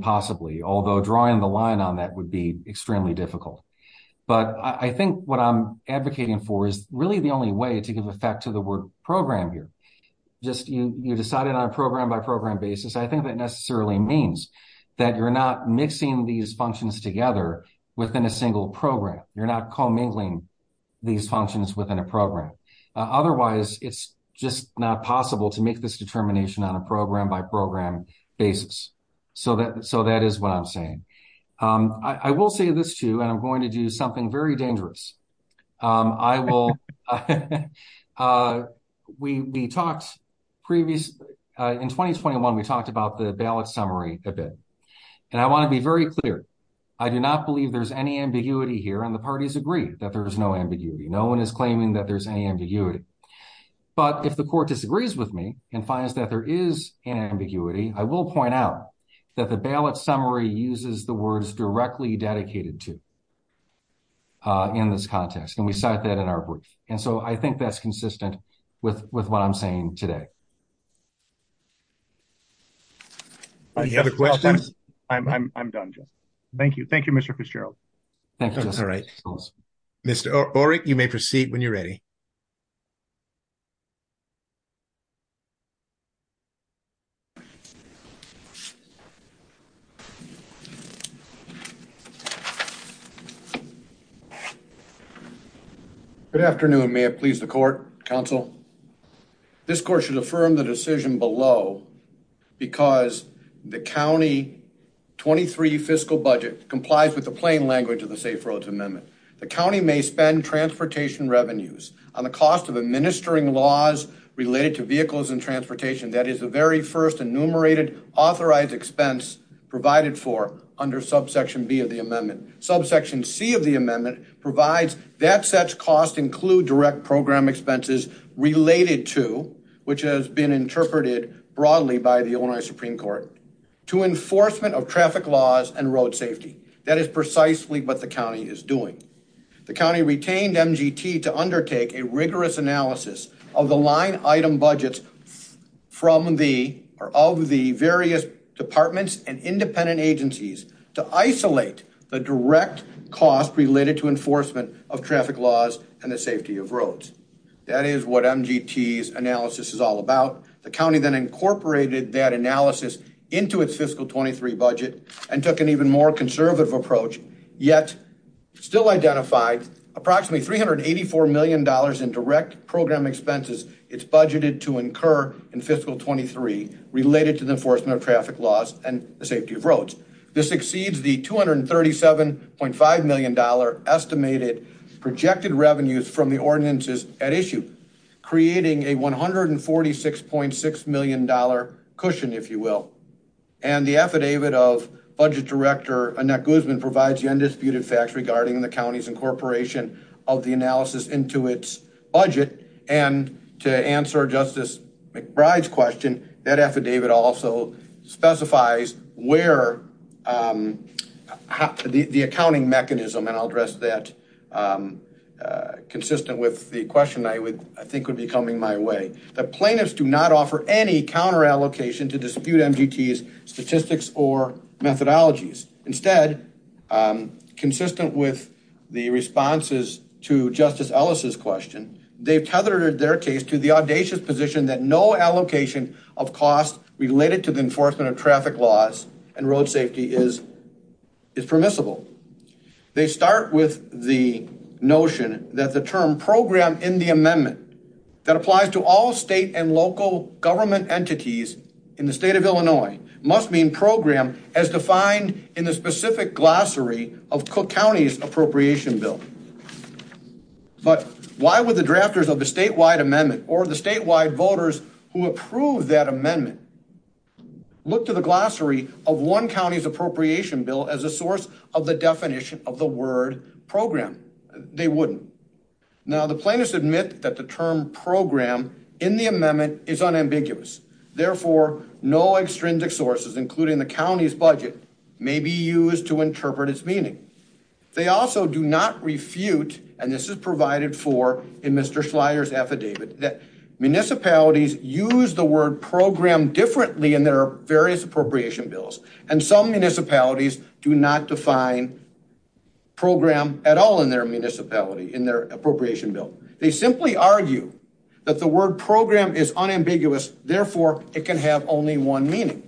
Possibly, although drawing the line on that would be extremely difficult, but I think what I'm advocating for is really the only way to give effect to the word program here. Just you, you decided on a program by program basis. I think that necessarily means that you're not mixing these functions together within a single program. You're not calling. These functions within a program. Otherwise, it's just not possible to make this determination on a program by program basis. So that so that is what I'm saying. I will say this too. I'm going to do something very dangerous. We talked previous in 2021, we talked about the ballot summary a bit and I want to be very clear. I do not believe there's any ambiguity here and the parties agree that there is no ambiguity. No one is claiming that there's any ambiguity. But if the court disagrees with me and finds that there is an ambiguity, I will point out that the ballot summary uses the words directly dedicated to in this context. And we start that at our point. And so I think that's consistent with what I'm saying today. I have a question. I'm done. Thank you. Thank you. Mr. Cheryl. All right, Mr. you may proceed when you're ready. Good afternoon. May it please the court counsel. This court should affirm the decision below because the county 23 fiscal budget complies with the plain language of the safe roads amendment. The county may spend transportation revenues on the cost of administering laws related to vehicles and transportation. That is the very first enumerated authorized expense provided for under subsection B of the amendment. Subsection C of the amendment provides that such costs include direct program expenses related to, which has been interpreted broadly by the owner of Supreme court to enforcement of traffic laws and road safety. That is precisely what the county is doing. The county retained to undertake a rigorous analysis of the line item budgets from the, or all the various departments and independent agencies to isolate the direct cost related to enforcement of traffic laws and the safety of roads. That is what analysis is all about. The county then incorporated that analysis into its fiscal 23 budget and took an even more conservative approach yet still identified approximately 384 million dollars in direct program expenses. It's budgeted to incur in fiscal 23 related to the enforcement of traffic laws and the safety of roads. This exceeds the 237.5 million dollar estimated projected revenues from the ordinances at issue, creating a 146.6 million dollar cushion, if you will. And the affidavit of budget director Annette Guzman provides the undisputed facts regarding the county's incorporation of the analysis into its budget and to answer Justice McBride's question, that affidavit also specifies where the accounting mechanism, and I'll address that consistent with the question I think would be coming my way. The plaintiffs do not offer any counter allocation to dispute MGT's statistics or methodologies. Instead, consistent with the responses to Justice Ellis' question, they've tethered their case to the audacious position that no allocation of costs related to the enforcement of traffic laws and road safety is permissible. They start with the notion that the term program in the amendment that applies to all state and local government entities in the state of Illinois must mean program as defined in the specific glossary of Cook County's appropriation bill. But why would the drafters of the statewide amendment or the statewide voters who approved that amendment look to the glossary of one county's appropriation bill as a source of the definition of the word program? They wouldn't. Now, the plaintiffs admit that the term program in the amendment is unambiguous. Therefore, no extrinsic sources, including the county's budget, may be used to interpret its meaning. They also do not refute, and this is provided for in Mr. Slyer's affidavit, that municipalities use the word program differently in their various appropriation bills, and some municipalities do not define program at all in their appropriation bill. They simply argue that the word program is unambiguous. Therefore, it can have only one meaning.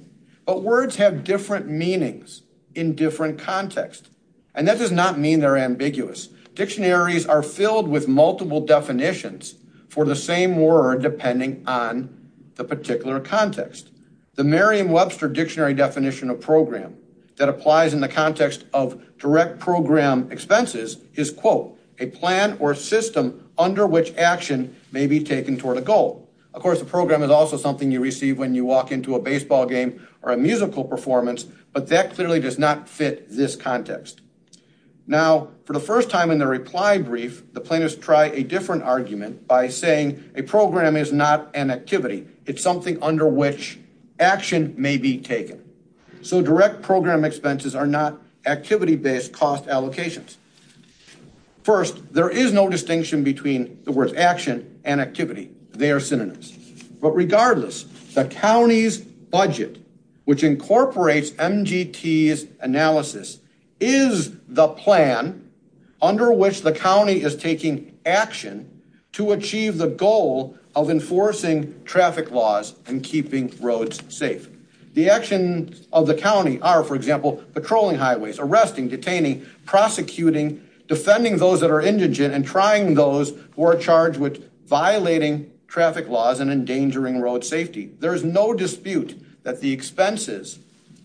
But words have different meanings in different contexts, and that does not mean they're ambiguous. Dictionaries are filled with multiple definitions for the same word depending on the particular context. The Merriam-Webster dictionary definition of program that applies in the context of direct program expenses is, quote, a plan or system under which action may be taken toward a goal. Of course, a program is also something you receive when you walk into a baseball game or a musical performance, but that clearly does not fit this context. Now, for the first time in the reply brief, the plaintiffs try a different argument by saying a program is not an activity. It's something under which action may be taken. So direct program expenses are not activity-based cost allocations. First, there is no distinction between the words action and activity. They are synonyms. But regardless, the county's budget, which incorporates MGT's analysis, is the plan under which the county is taking action to achieve the goal of enforcing traffic laws and keeping roads safe. The actions of the county are, for example, patrolling highways, arresting, detaining, prosecuting, defending those that are indigent, and trying those who are charged with violating traffic laws and endangering road safety. There is no dispute that the expenses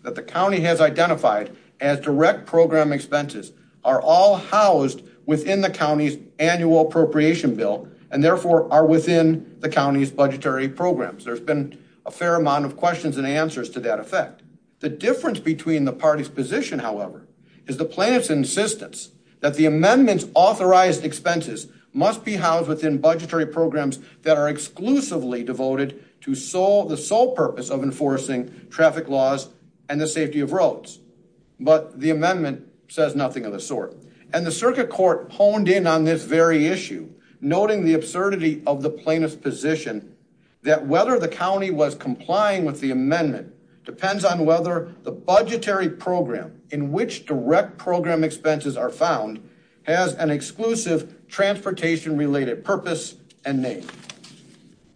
that the county has identified as direct program expenses are all housed within the county's annual appropriation bill and, therefore, are within the county's budgetary programs. There's been a fair amount of questions and answers to that effect. The difference between the parties' position, however, is the plaintiff's insistence that the amendment's authorized expenses must be housed within budgetary programs that are exclusively devoted to the sole purpose of enforcing traffic laws and the safety of roads. But the amendment says nothing of the sort. And the circuit court honed in on this very issue, noting the absurdity of the plaintiff's position that whether the county was complying with the amendment depends on whether the budgetary program in which direct program expenses are found has an exclusive transportation-related purpose and name.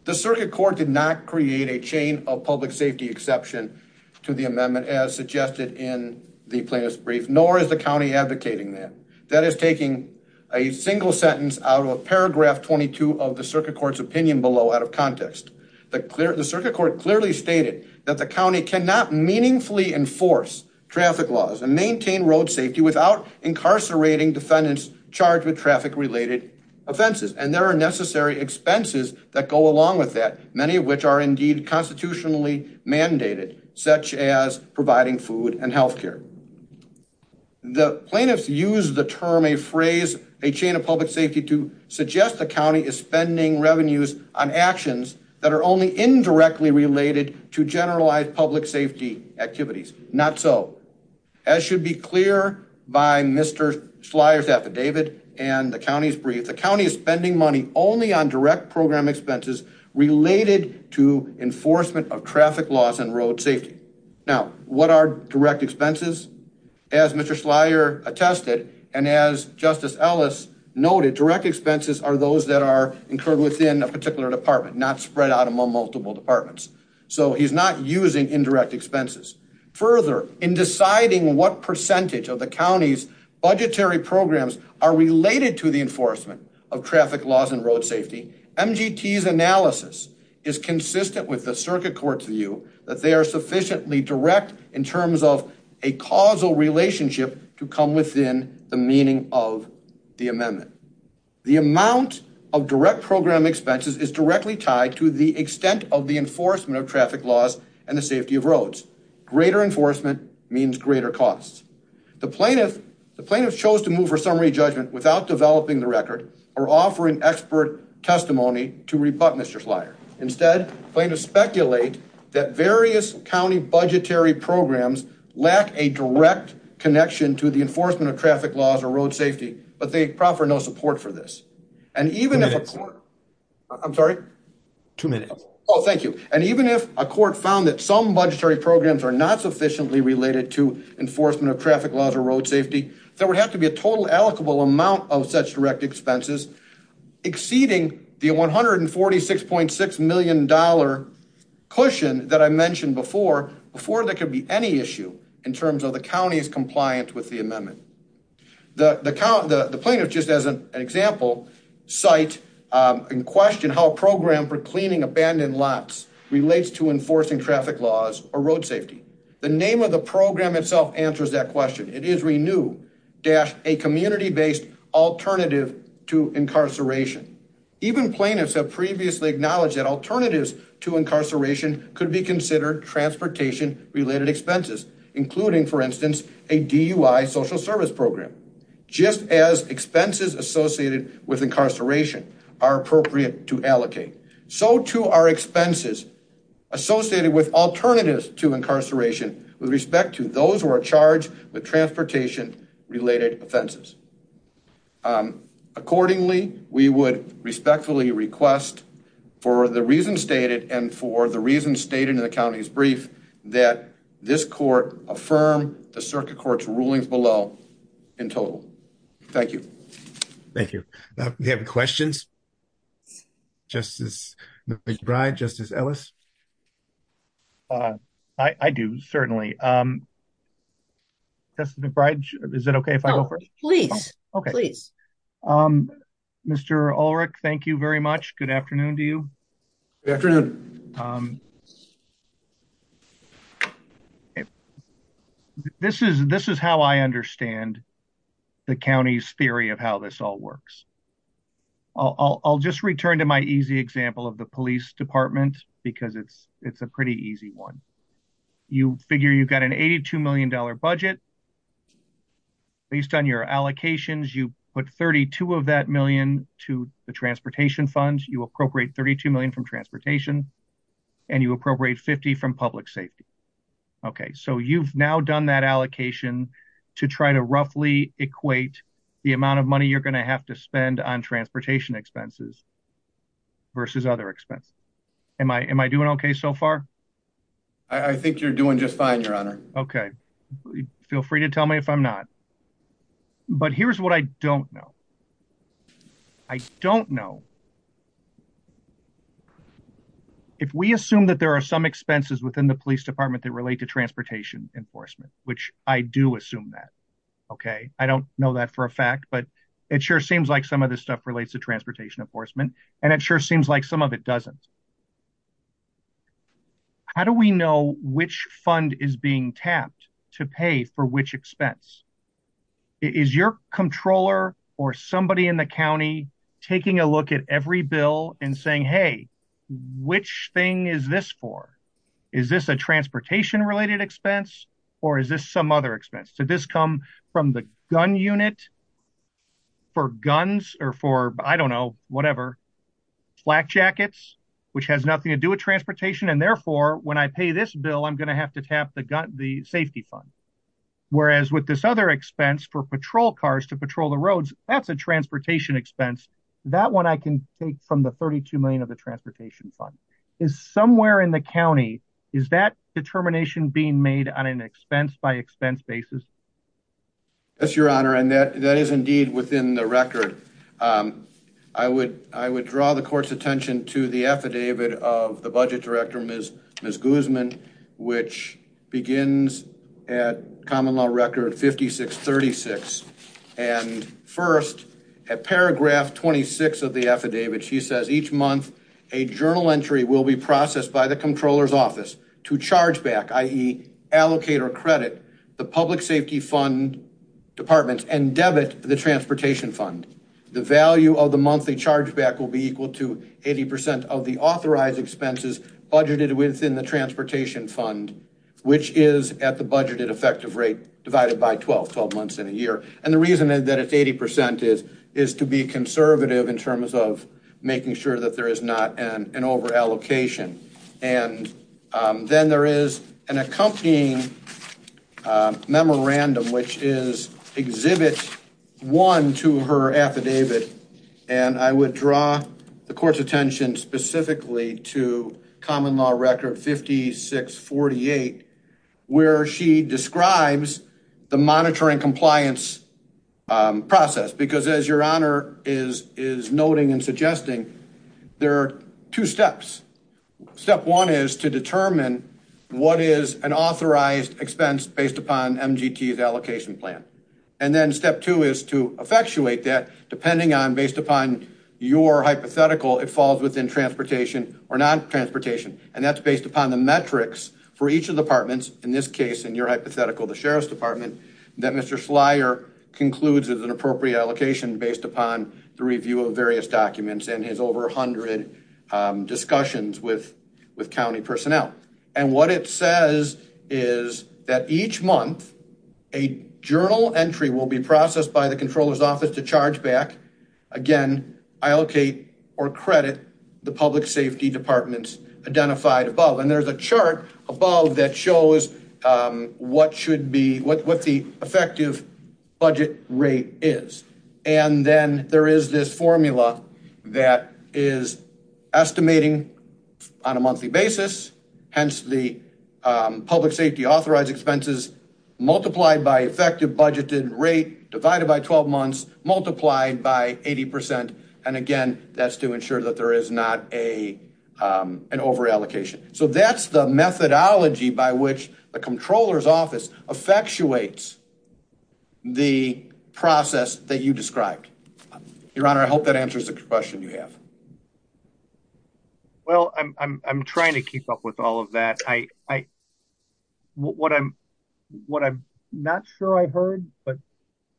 The circuit court did not create a chain of public safety exception to the amendment as suggested in the plaintiff's brief, nor is the county advocating that. That is taking a single sentence out of paragraph 22 of the circuit court's opinion below out of context. The circuit court clearly stated that the county cannot meaningfully enforce traffic laws and maintain road safety without incarcerating defendants charged with traffic-related offenses. And there are necessary expenses that go along with that, many of which are, indeed, constitutionally mandated, such as providing food and health care. The plaintiffs used the term, a phrase, a chain of public safety to suggest the county is spending revenues on actions that are only indirectly related to generalized public safety activities. Not so. As should be clear by Mr. Slyer's affidavit and the county's brief, the county is spending money only on direct program expenses related to enforcement of traffic laws and road safety. Now, what are direct expenses? As Mr. Slyer attested and as Justice Ellis noted, direct expenses are those that are incurred within a particular department, not spread out among multiple departments. So he's not using indirect expenses. Further, in deciding what percentage of the county's budgetary programs are related to the enforcement of traffic laws and road safety, MGT's analysis is consistent with the circuit court's view that they are sufficiently direct in terms of a causal relationship to come within the meaning of the amendment. The amount of direct program expenses is directly tied to the extent of the enforcement of traffic laws and the safety of roads. Greater enforcement means greater costs. The plaintiff chose to move her summary judgment without developing the record or offering expert testimony to rebut Mr. Slyer. Instead, the plaintiff speculates that various county budgetary programs lack a direct connection to the enforcement of traffic laws or road safety, but they proffer no support for this. And even if a court... I'm sorry? Two minutes. ...exceeding the $146.6 million cushion that I mentioned before, before there could be any issue in terms of the county's compliance with the amendment. The plaintiff, just as an example, cite and question how a program for cleaning abandoned lots relates to enforcing traffic laws or road safety. The name of the program itself answers that question. It is Renew-A Community-Based Alternative to Incarceration. Even plaintiffs have previously acknowledged that alternatives to incarceration could be considered transportation-related expenses, including, for instance, a DUI social service program. Just as expenses associated with incarceration are appropriate to allocate, so too are expenses associated with alternatives to incarceration with respect to those who are charged with transportation-related offenses. Accordingly, we would respectfully request for the reasons stated and for the reasons stated in the county's brief that this court affirm the circuit court's rulings below in total. Thank you. Thank you. Do we have any questions? Justice McBride, Justice Ellis? I do, certainly. Justice McBride, is it okay if I go first? Please. Okay. Please. Mr. Ulrich, thank you very much. Good afternoon to you. Good afternoon. Thank you. This is how I understand the county's theory of how this all works. I'll just return to my easy example of the police department because it's a pretty easy one. You figure you've got an $82 million budget. Based on your allocations, you put $32 of that million to the transportation funds, you appropriate $32 million from transportation, and you appropriate $50 from public safety. Okay, so you've now done that allocation to try to roughly equate the amount of money you're going to have to spend on transportation expenses versus other expenses. Am I doing okay so far? I think you're doing just fine, Your Honor. Okay. Feel free to tell me if I'm not. But here's what I don't know. I don't know. If we assume that there are some expenses within the police department that relate to transportation enforcement, which I do assume that, okay? I don't know that for a fact, but it sure seems like some of this stuff relates to transportation enforcement, and it sure seems like some of it doesn't. How do we know which fund is being tapped to pay for which expense? Is your controller or somebody in the county taking a look at every bill and saying, hey, which thing is this for? Is this a transportation-related expense, or is this some other expense? Did this come from the gun unit for guns or for, I don't know, whatever? Flak jackets, which has nothing to do with transportation, and therefore, when I pay this bill, I'm going to have to tap the safety fund. Whereas with this other expense for patrol cars to patrol the roads, that's a transportation expense. That one I can take from the $32 million of the transportation fund. Somewhere in the county, is that determination being made on an expense-by-expense basis? Yes, Your Honor, and that is indeed within the record. I would draw the court's attention to the affidavit of the budget director, Ms. Guzman, which begins at Common Law Record 5636. First, at paragraph 26 of the affidavit, she says, each month, a journal entry will be processed by the controller's office to charge back, i.e., allocate or credit the public safety fund department and debit the transportation fund. The value of the monthly chargeback will be equal to 80% of the authorized expenses budgeted within the transportation fund, which is at the budgeted effective rate, divided by 12, 12 months in a year. And the reason that it's 80% is to be conservative in terms of making sure that there is not an overallocation. And then there is an accompanying memorandum, which exhibits one to her affidavit, and I would draw the court's attention specifically to Common Law Record 5648, where she describes the monitoring compliance process. Because as Your Honor is noting and suggesting, there are two steps. Step one is to determine what is an authorized expense based upon MGT's allocation plan. And then step two is to effectuate that, depending on, based upon your hypothetical, it falls within transportation or non-transportation. And that's based upon the metrics for each of the departments, in this case, in your hypothetical, the Sheriff's Department, that Mr. Slyer concludes is an appropriate allocation based upon the review of various documents and his over 100 discussions with county personnel. And what it says is that each month, a journal entry will be processed by the Comptroller's Office to charge back, again, allocate or credit the public safety departments identified above. And there's a chart above that shows what should be, what the effective budget rate is. And then there is this formula that is estimating on a monthly basis, hence the public safety authorized expenses, multiplied by effective budgeted rate, divided by 12 months, multiplied by 80%. And again, that's to ensure that there is not an overallocation. So that's the methodology by which the Comptroller's Office effectuates the process that you described. Your Honor, I hope that answers the question you have. Well, I'm trying to keep up with all of that. What I'm not sure I heard, but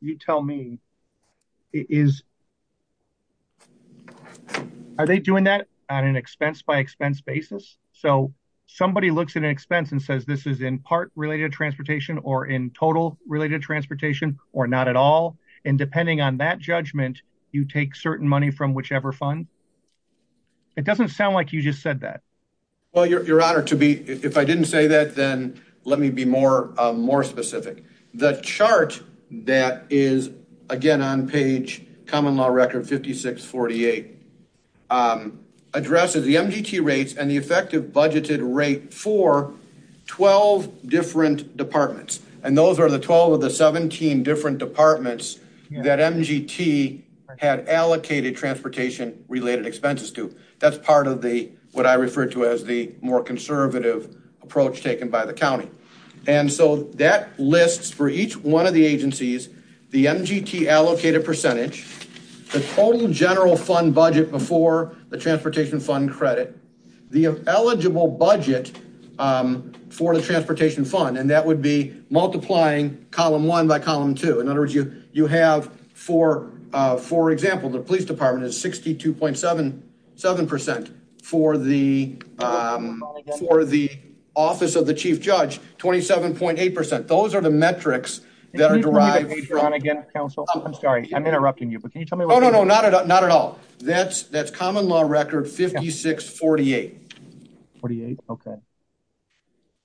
you tell me, is are they doing that on an expense by expense basis? So somebody looks at an expense and says this is in part related transportation or in total related transportation or not at all. And depending on that judgment, you take certain money from whichever fund? It doesn't sound like you just said that. Well, Your Honor, if I didn't say that, then let me be more specific. The chart that is, again, on page Common Law Record 5648, addresses the MGT rates and the effective budgeted rate for 12 different departments. And those are the 12 of the 17 different departments that MGT had allocated transportation related expenses to. That's part of what I refer to as the more conservative approach taken by the county. And so that lists for each one of the agencies the MGT allocated percentage, the total general fund budget before the transportation fund credit, the eligible budget for the transportation fund. And that would be multiplying column one by column two. In other words, you have, for example, the police department is 62.77% for the office of the chief judge, 27.8%. Those are the metrics that are derived. I'm sorry, I'm interrupting you. Oh, no, no, not at all. That's Common Law Record 5648. 48, okay.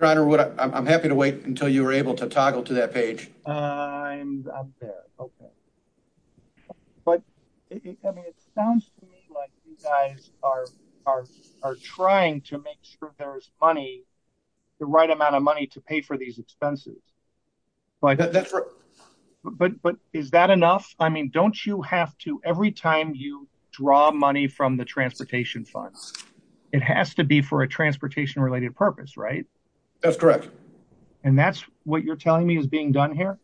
Your Honor, I'm happy to wait until you're able to toggle to that page. Okay, okay. But it sounds to me like you guys are trying to make sure there's money, the right amount of money to pay for these expenses. But is that enough? I mean, don't you have to, every time you draw money from the transportation fund, it has to be for a transportation related purpose, right? That's correct. And that's what you're telling me is being done here?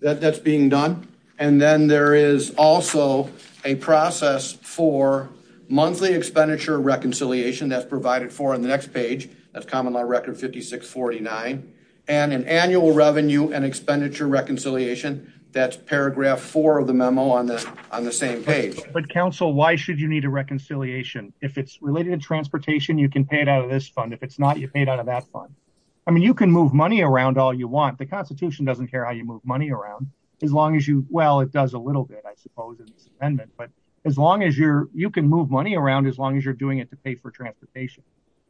That's being done. And then there is also a process for monthly expenditure reconciliation that's provided for on the next page. That's Common Law Record 5649. And an annual revenue and expenditure reconciliation, that's paragraph four of the memo on the same page. But, counsel, why should you need a reconciliation? If it's related to transportation, you can pay it out of this fund. If it's not, you pay it out of that fund. I mean, you can move money around all you want. The Constitution doesn't care how you move money around, as long as you, well, it does a little bit, I suppose, in the amendment. But as long as you're, you can move money around as long as you're doing it to pay for transportation.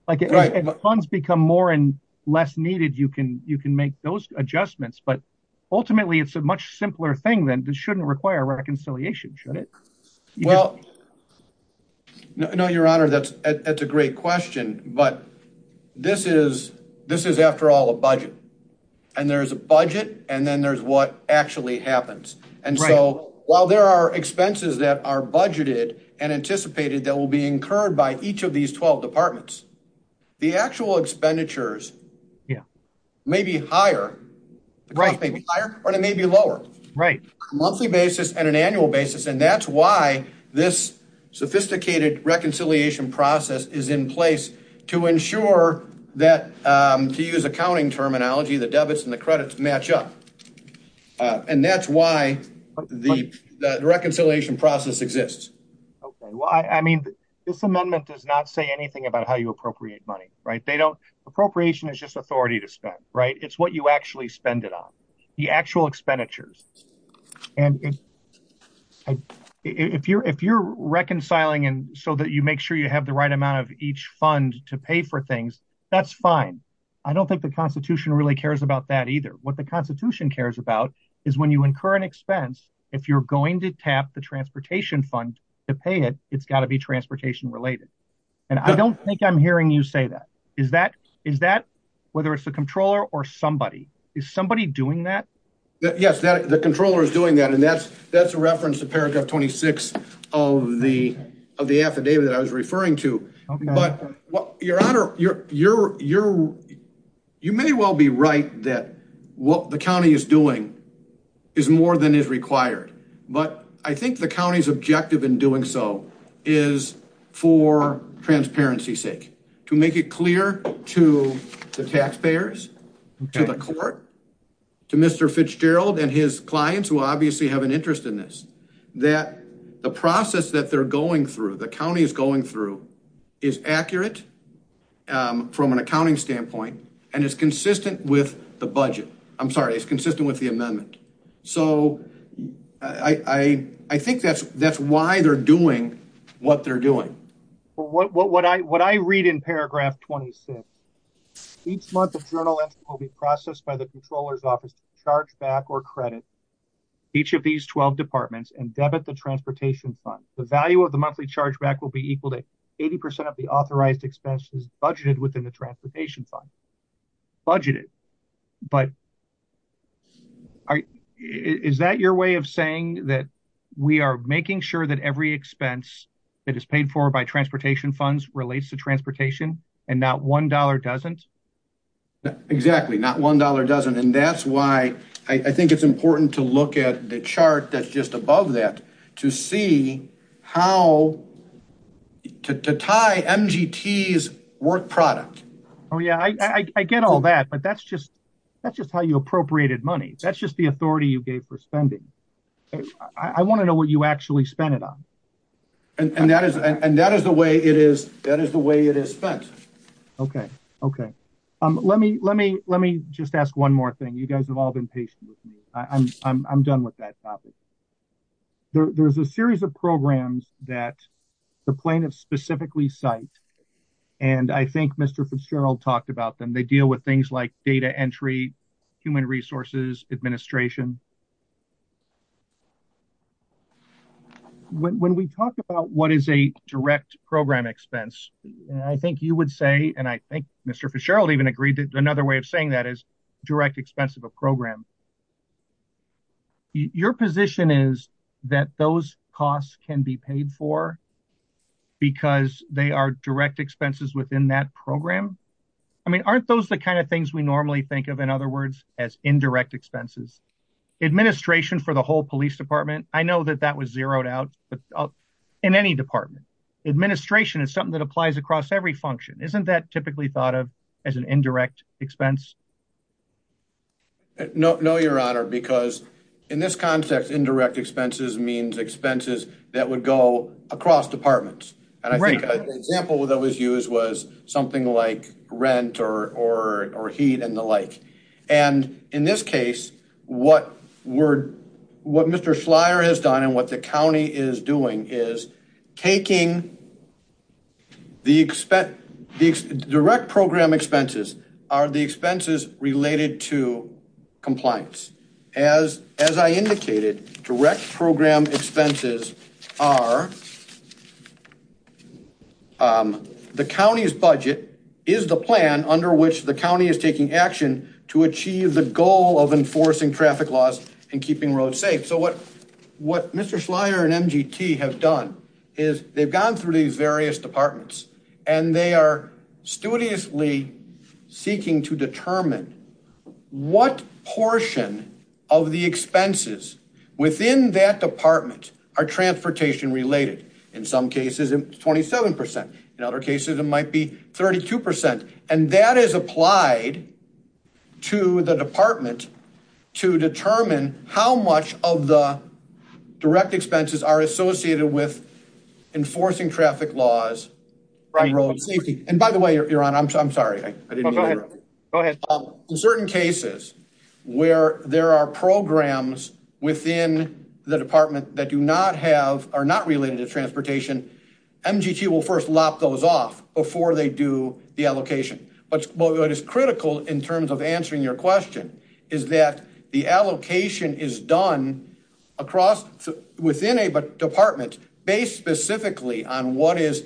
Right. And the funds become more and less needed, you can make those adjustments. But ultimately, it's a much simpler thing, then. This shouldn't require a reconciliation, should it? Well, no, Your Honor, that's a great question. But this is, after all, a budget. And there's a budget, and then there's what actually happens. And so, while there are expenses that are budgeted and anticipated that will be incurred by each of these 12 departments, the actual expenditures may be higher. Right. Or they may be lower. Right. A monthly basis and an annual basis, and that's why this sophisticated reconciliation process is in place, to ensure that, to use accounting terminology, the debits and the credits match up. And that's why the reconciliation process exists. Okay. Well, I mean, this amendment does not say anything about how you appropriate money. Right. They don't. Appropriation is just authority to spend. Right. It's what you actually spend it on. The actual expenditures. And if you're reconciling so that you make sure you have the right amount of each fund to pay for things, that's fine. I don't think the Constitution really cares about that either. What the Constitution cares about is when you incur an expense, if you're going to tap the transportation fund to pay it, it's got to be transportation-related. And I don't think I'm hearing you say that. Is that whether it's the Comptroller or somebody? Is somebody doing that? Yes, the Comptroller is doing that, and that's a reference to paragraph 26 of the affidavit that I was referring to. Okay. Your Honor, you may well be right that what the county is doing is more than is required. But I think the county's objective in doing so is for transparency's sake, to make it clear to the taxpayers, to the court, to Mr. Fitzgerald and his clients, who obviously have an interest in this, that the process that they're going through, the county is going through, is accurate from an accounting standpoint and is consistent with the budget. I'm sorry, it's consistent with the amendment. So I think that's why they're doing what they're doing. What I read in paragraph 26, each month a journal entry will be processed by the Comptroller's office to charge back or credit each of these 12 departments and debit the transportation fund. The value of the monthly chargeback will be equal to 80% of the authorized expenses budgeted within the transportation fund. Budgeted. But is that your way of saying that we are making sure that every expense that is paid for by transportation funds relates to transportation and not $1 doesn't? Exactly, not $1 doesn't. And that's why I think it's important to look at the chart that's just above that to see how to tie MGT's work product. Oh yeah, I get all that, but that's just how you appropriated money. That's just the authority you gave for spending. I want to know what you actually spent it on. And that is the way it is spent. Okay, okay. Let me just ask one more thing. You guys have all been patient with me. I'm done with that topic. There's a series of programs that the plaintiffs specifically cite, and I think Mr. Fitzgerald talked about them. They deal with things like data entry, human resources, administration. When we talk about what is a direct program expense, I think you would say, and I think Mr. Fitzgerald even agreed that another way of saying that is direct expense of a program. Your position is that those costs can be paid for because they are direct expenses within that program? I mean, aren't those the kind of things we normally think of, in other words, as indirect expenses? Administration for the whole police department, I know that that was zeroed out, but in any department. Administration is something that applies across every function. Isn't that typically thought of as an indirect expense? No, Your Honor, because in this context, indirect expenses means expenses that would go across departments. And I think an example that was used was something like rent or heat and the like. And in this case, what Mr. Schleyer has done and what the county is doing is taking the direct program expenses are the expenses related to compliance. As I indicated, direct program expenses are the county's budget is the plan under which the county is taking action to achieve the goal of enforcing traffic laws and keeping roads safe. So what Mr. Schleyer and MGT have done is they've gone through these various departments and they are studiously seeking to determine what portion of the expenses within that department are transportation related. In some cases, it's 27%. In other cases, it might be 32%. And that is applied to the department to determine how much of the direct expenses are associated with enforcing traffic laws. And by the way, Your Honor, I'm sorry. In certain cases where there are programs within the department that do not have are not related to transportation, MGT will first lock those off before they do the allocation. But what is critical in terms of answering your question is that the allocation is done across within a department based specifically on what is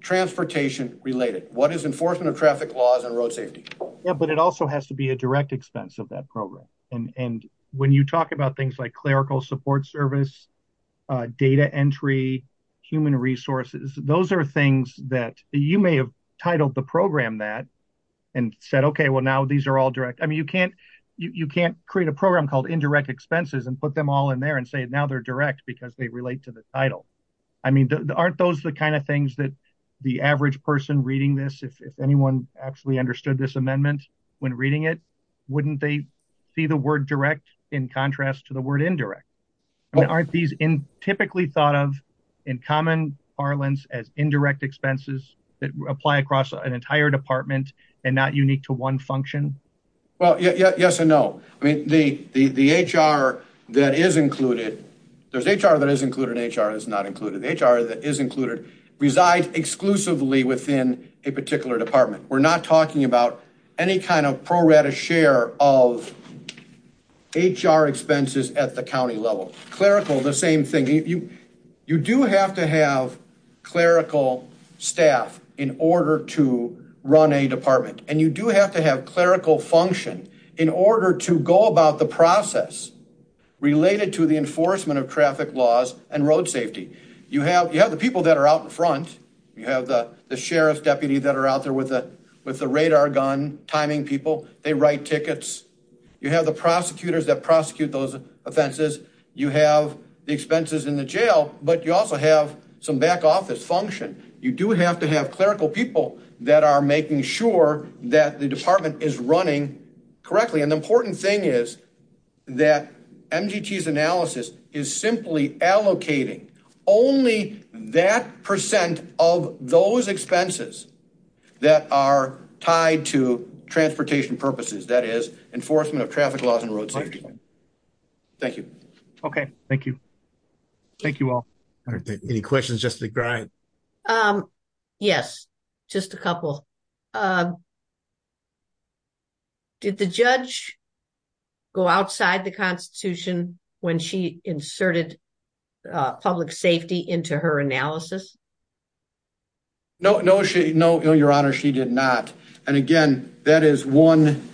transportation related. What is enforcement of traffic laws and road safety. But it also has to be a direct expense of that program. And when you talk about things like clerical support service, data entry, human resources, those are things that you may have titled the program that and said, okay, well, now these are all direct. I mean, you can't create a program called indirect expenses and put them all in there and say, now they're direct because they relate to the title. I mean, aren't those the kind of things that the average person reading this, if anyone actually understood this amendment when reading it, wouldn't they see the word direct in contrast to the word indirect? Aren't these typically thought of in common parlance as indirect expenses that apply across an entire department and not unique to one function? Well, yes and no. I mean, the HR that is included, there's HR that is included and HR that is not included. HR that is included resides exclusively within a particular department. We're not talking about any kind of pro rata share of HR expenses at the county level. Clerical, the same thing. You do have to have clerical staff in order to run a department. And you do have to have clerical function in order to go about the process related to the enforcement of traffic laws and road safety. You have the people that are out in front. You have the sheriff's deputy that are out there with the radar gun timing people. They write tickets. You have the prosecutors that prosecute those offenses. You have the expenses in the jail, but you also have some back office function. You do have to have clerical people that are making sure that the department is running correctly. And the important thing is that MGT's analysis is simply allocating only that percent of those expenses that are tied to transportation purposes, that is, enforcement of traffic laws and road safety. Thank you. Okay, thank you. Thank you all. Any questions just to grind. Yes, just a couple. Did the judge go outside the Constitution when she inserted public safety into her analysis? No, no, no, no, your honor. She did not. And again, that is one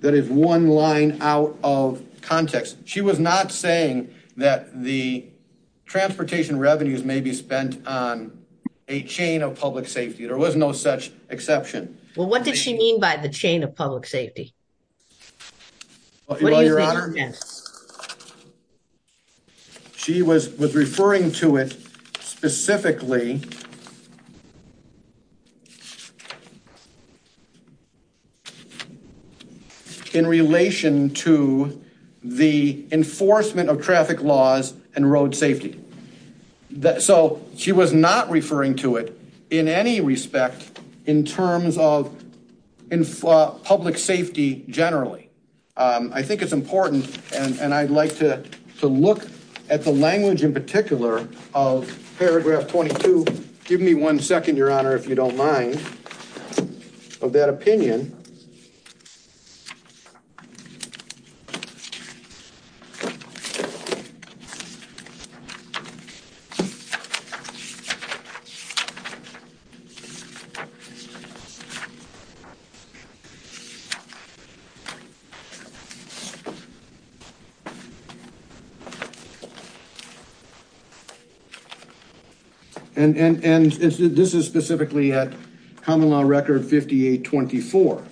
that is one line out of context. She was not saying that the transportation revenues may be spent on a chain of public safety. There was no such exception. Well, what did she mean by the chain of public safety? She was referring to it specifically in relation to the enforcement of traffic laws and road safety. So she was not referring to it in any respect in terms of public safety generally. I think it's important. And I'd like to look at the language in particular of paragraph 22. Give me one second, your honor, if you don't mind, of that opinion. And this is specifically at Common Law Record 5824.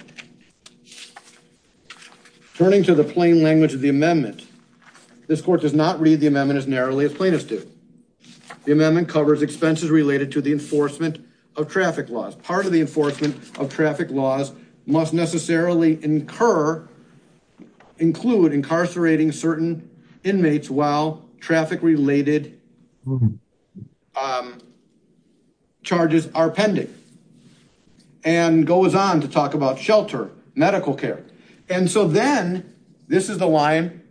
Turning to the plain language of the amendment, this court does not read the amendment as narrowly as plaintiffs do. The amendment covers expenses related to the enforcement of traffic laws. Part of the enforcement of traffic laws must necessarily incur, include incarcerating certain inmates while traffic related charges are pending. And goes on to talk about shelter, medical care. And so then this is the line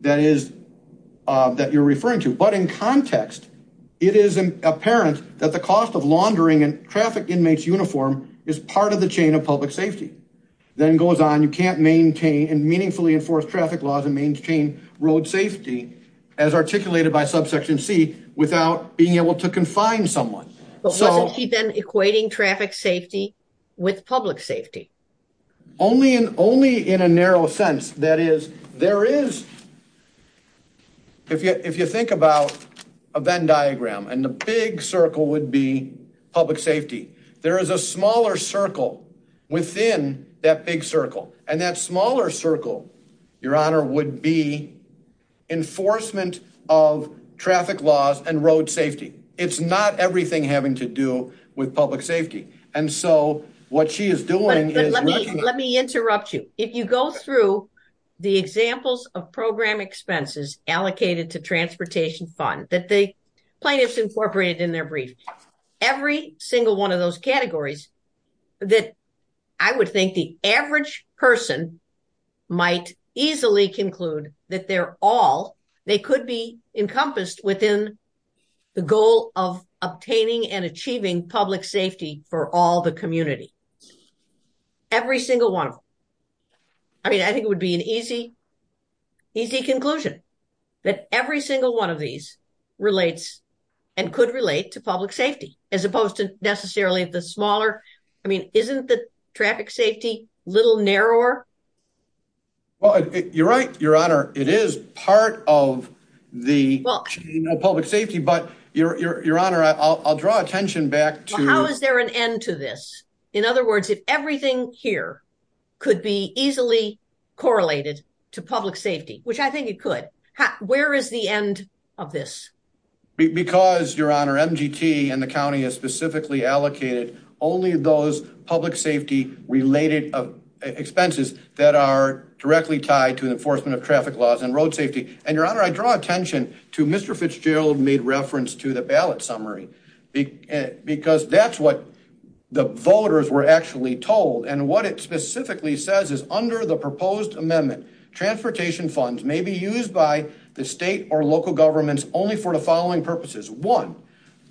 that you're referring to. But in context, it is apparent that the cost of laundering a traffic inmate's uniform is part of the chain of public safety. Then goes on, you can't maintain and meaningfully enforce traffic laws and maintain road safety as articulated by subsection C without being able to confine someone. Equating traffic safety with public safety. Only in only in a narrow sense. That is, there is. If you think about a Venn diagram and the big circle would be public safety, there is a smaller circle within that big circle. And that smaller circle, your honor, would be enforcement of traffic laws and road safety. It's not everything having to do with public safety. And so what she is doing, let me interrupt you. If you go through the examples of program expenses allocated to transportation fund that they plan is incorporated in their brief. Every single 1 of those categories. That I would think the average person might easily conclude that they're all they could be encompassed within the goal of obtaining and achieving public safety for all the community. Every single 1. I mean, I think it would be an easy. Easy conclusion that every single 1 of these relates and could relate to public safety as opposed to necessarily the smaller. I mean, isn't the traffic safety little narrower. You're right, your honor. It is part of the public safety, but your honor, I'll draw attention back to how is there an end to this? In other words, if everything here could be easily correlated to public safety, which I think it could, where is the end of this? Because your honor and the county is specifically allocated only those public safety related expenses that are directly tied to the enforcement of traffic laws and road safety. And your honor, I draw attention to Mr. Fitzgerald made reference to the ballot summary because that's what the voters were actually told. And what it specifically says is under the proposed amendment, transportation funds may be used by the state or local governments only for the following purposes. One,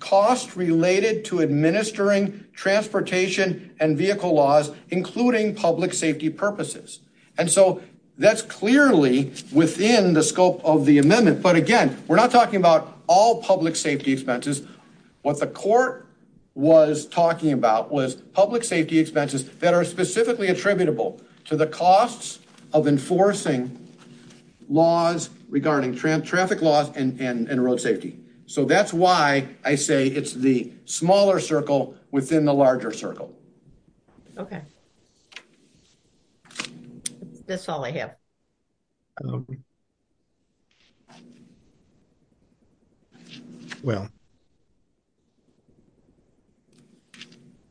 cost related to administering transportation and vehicle laws, including public safety purposes. And so that's clearly within the scope of the amendment. But again, we're not talking about all public safety expenses. What the court was talking about was public safety expenses that are specifically attributable to the costs of enforcing laws regarding traffic laws and road safety. So that's why I say it's the smaller circle within the larger circle. Okay. That's all I have. Well.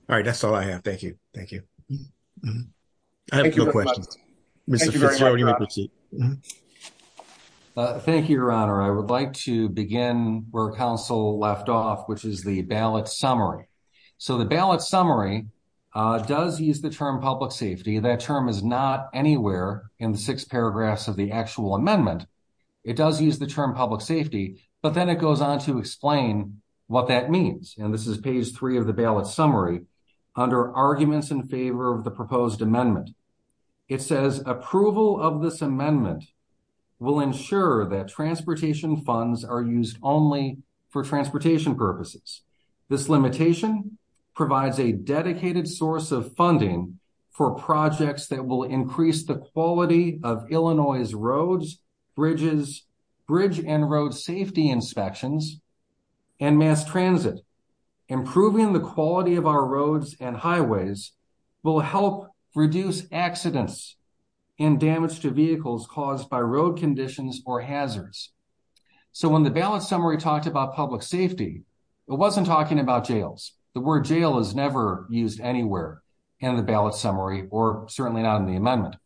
All right, that's all I have. Thank you. Thank you. I have a question. Thank you. Thank you. Your honor. I would like to begin where counsel left off, which is the ballot summary. So, the ballot summary does use the term public safety. That term is not anywhere in 6 paragraphs of the actual amendment. It does use the term public safety, but then it goes on to explain what that means. And this is page 3 of the ballot summary. Under arguments in favor of the proposed amendment. It says approval of this amendment. Will ensure that transportation funds are used only for transportation purposes. This limitation provides a dedicated source of funding. For projects that will increase the quality of Illinois roads. Bridges bridge and road safety inspections. And mass transit, improving the quality of our roads and highways. Will help reduce accidents and damage to vehicles caused by road conditions or hazards. So, when the ballot summary talked about public safety. It wasn't talking about jails. The word jail is never used anywhere. And the ballot summary, or certainly not in the amendment.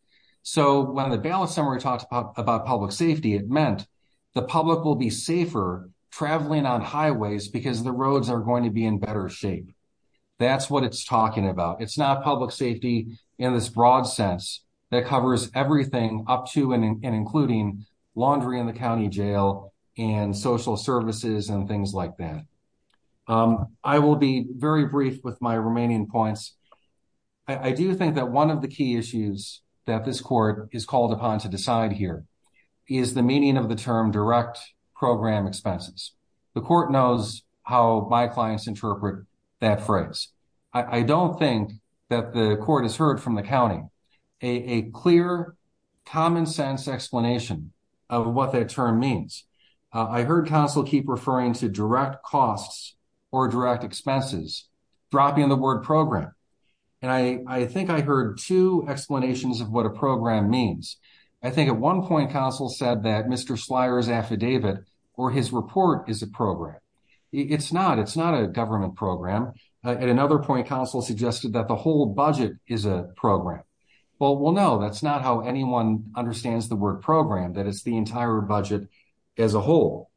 So, when the ballot summary talks about public safety, it meant. The public will be safer traveling on highways because the roads are going to be in better shape. That's what it's talking about. It's not public safety in this broad sense. That covers everything up to and including laundry in the county jail and social services and things like that. I will be very brief with my remaining points. I do think that 1 of the key issues that this court is called upon to decide here. Is the meaning of the term direct program expenses. The court knows how my clients interpret that phrase. I don't think that the court has heard from the county. A clear common sense explanation of what that term means. I heard counsel keep referring to direct costs. Or direct expenses, dropping the word program. And I, I think I heard 2 explanations of what a program means. I think at 1 point, counsel said that Mr. flyers affidavit. Or his report is a program. It's not it's not a government program. At another point, counsel suggested that the whole budget is a program. Well, we'll know that's not how anyone understands the word program that it's the entire budget. As a whole.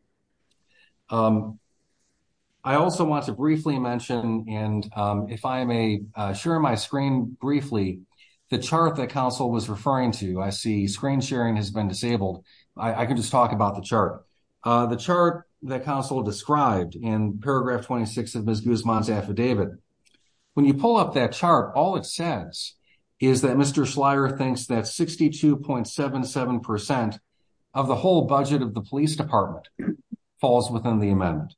I also want to briefly mention, and if I may share my screen briefly. The chart that counsel was referring to, I see screen sharing has been disabled. I can just talk about the chart. The chart that counsel described in paragraph 26 of this affidavit. When you pull up that chart, all it says is that Mr. Schleyer thinks that 62.77%. Of the whole budget of the police department falls within the amendment.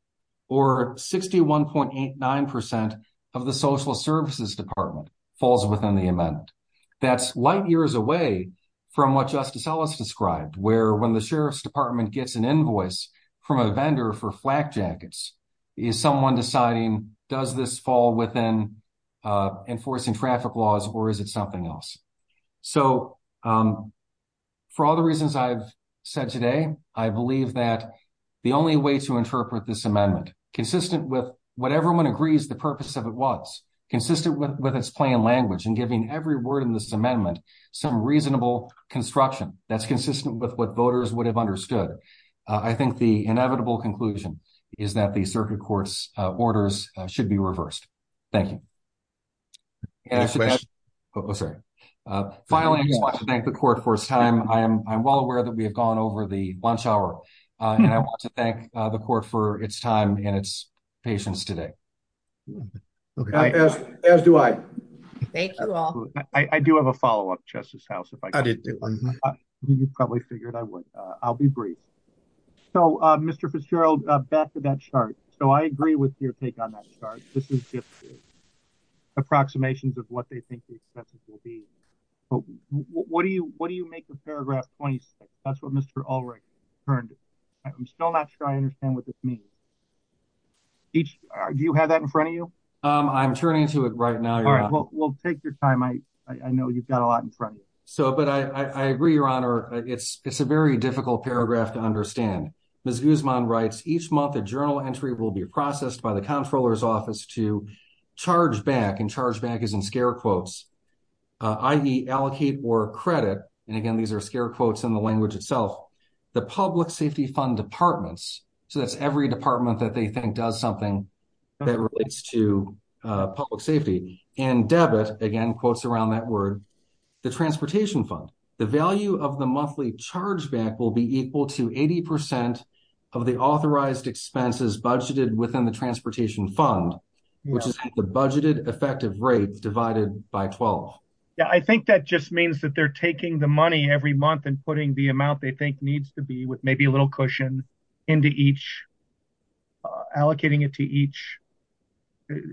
Or 61.89% of the social services department falls within the event. That's light years away from what justice Ellis described where, when the sheriff's department gets an invoice from a vendor for flak jackets. Is someone deciding does this fall within enforcing traffic laws or is it something else? So, for all the reasons I've said today, I believe that. The only way to interpret this amendment consistent with what everyone agrees the purpose of it was consistent with its plain language and giving every word in this amendment. Some reasonable construction that's consistent with what voters would have understood. I think the inevitable conclusion. Is that the circuit course orders should be reversed. Thank you. Finally, I want to thank the court for time. I'm well aware that we have gone over the lunch hour. I want to thank the court for its time and its patience today. As do I, I do have a follow up justice house. You probably figured I would, I'll be brief. So, Mr. Fitzgerald back to that chart. So, I agree with your take on that start. Approximations of what they think. What do you, what do you make a paragraph? That's what Mr. already. I'm still not sure I understand what this means. Do you have that in front of you? I'm turning to it right now. We'll take your time. I know you've got a lot in front of you. But I agree, your honor, it's a very difficult paragraph to understand. Each month, a journal entry will be processed by the comptroller's office to charge back and charge back is in scare quotes. I allocate more credit and again, these are scare quotes in the language itself. The public safety fund departments, so that's every department that they think does something. To public safety and debit again, quotes around that word. The transportation fund, the value of the monthly charge back will be equal to 80% of the authorized expenses budgeted within the transportation fund. The budgeted effective rate divided by 12. Yeah, I think that just means that they're taking the money every month and putting the amount they think needs to be with maybe a little cushion into each. Allocating it to each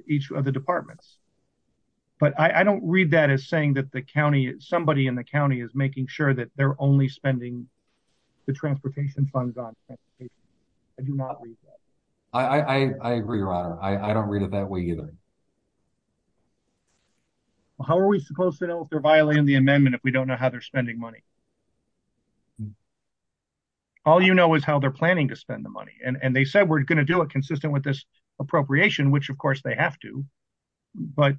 each of the departments. But I don't read that as saying that the county, somebody in the county is making sure that they're only spending the transportation funds on. I do not. I agree. I don't read it that way either. How are we supposed to know if they're violating the amendment if we don't know how they're spending money. All you know is how they're planning to spend the money and they said we're going to do a consistent with this appropriation which of course they have to. But,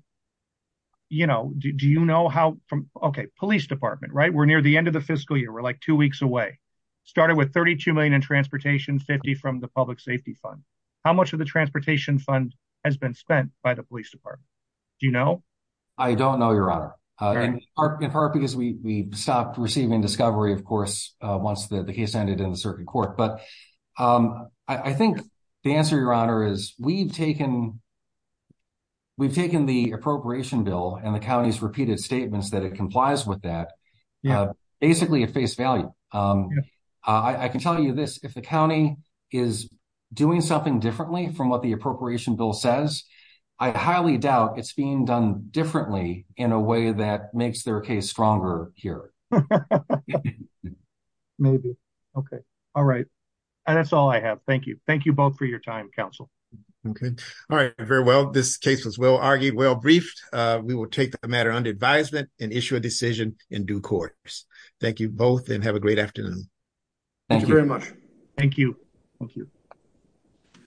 you know, do you know how from okay police department right we're near the end of the fiscal year we're like two weeks away. Started with 32 million in transportation safety from the public safety fund. How much of the transportation funds has been spent by the police department. You know, I don't know your honor. Because we stopped receiving discovery of course, once the case ended in a certain court, but I think the answer your honor is we've taken. We've taken the appropriation bill and the county's repeated statements that it complies with that. Basically a face value. I can tell you this, if the county is doing something differently from what the appropriation bill says, I highly doubt it's being done differently in a way that makes their case stronger here. Maybe. Okay. All right. And that's all I have. Thank you. Thank you both for your time counsel. Okay. All right. Very well. This case was well argued well briefed, we will take the matter under advisement and issue a decision in due course. Thank you both and have a great afternoon. Thank you very much. Thank you. Thank you.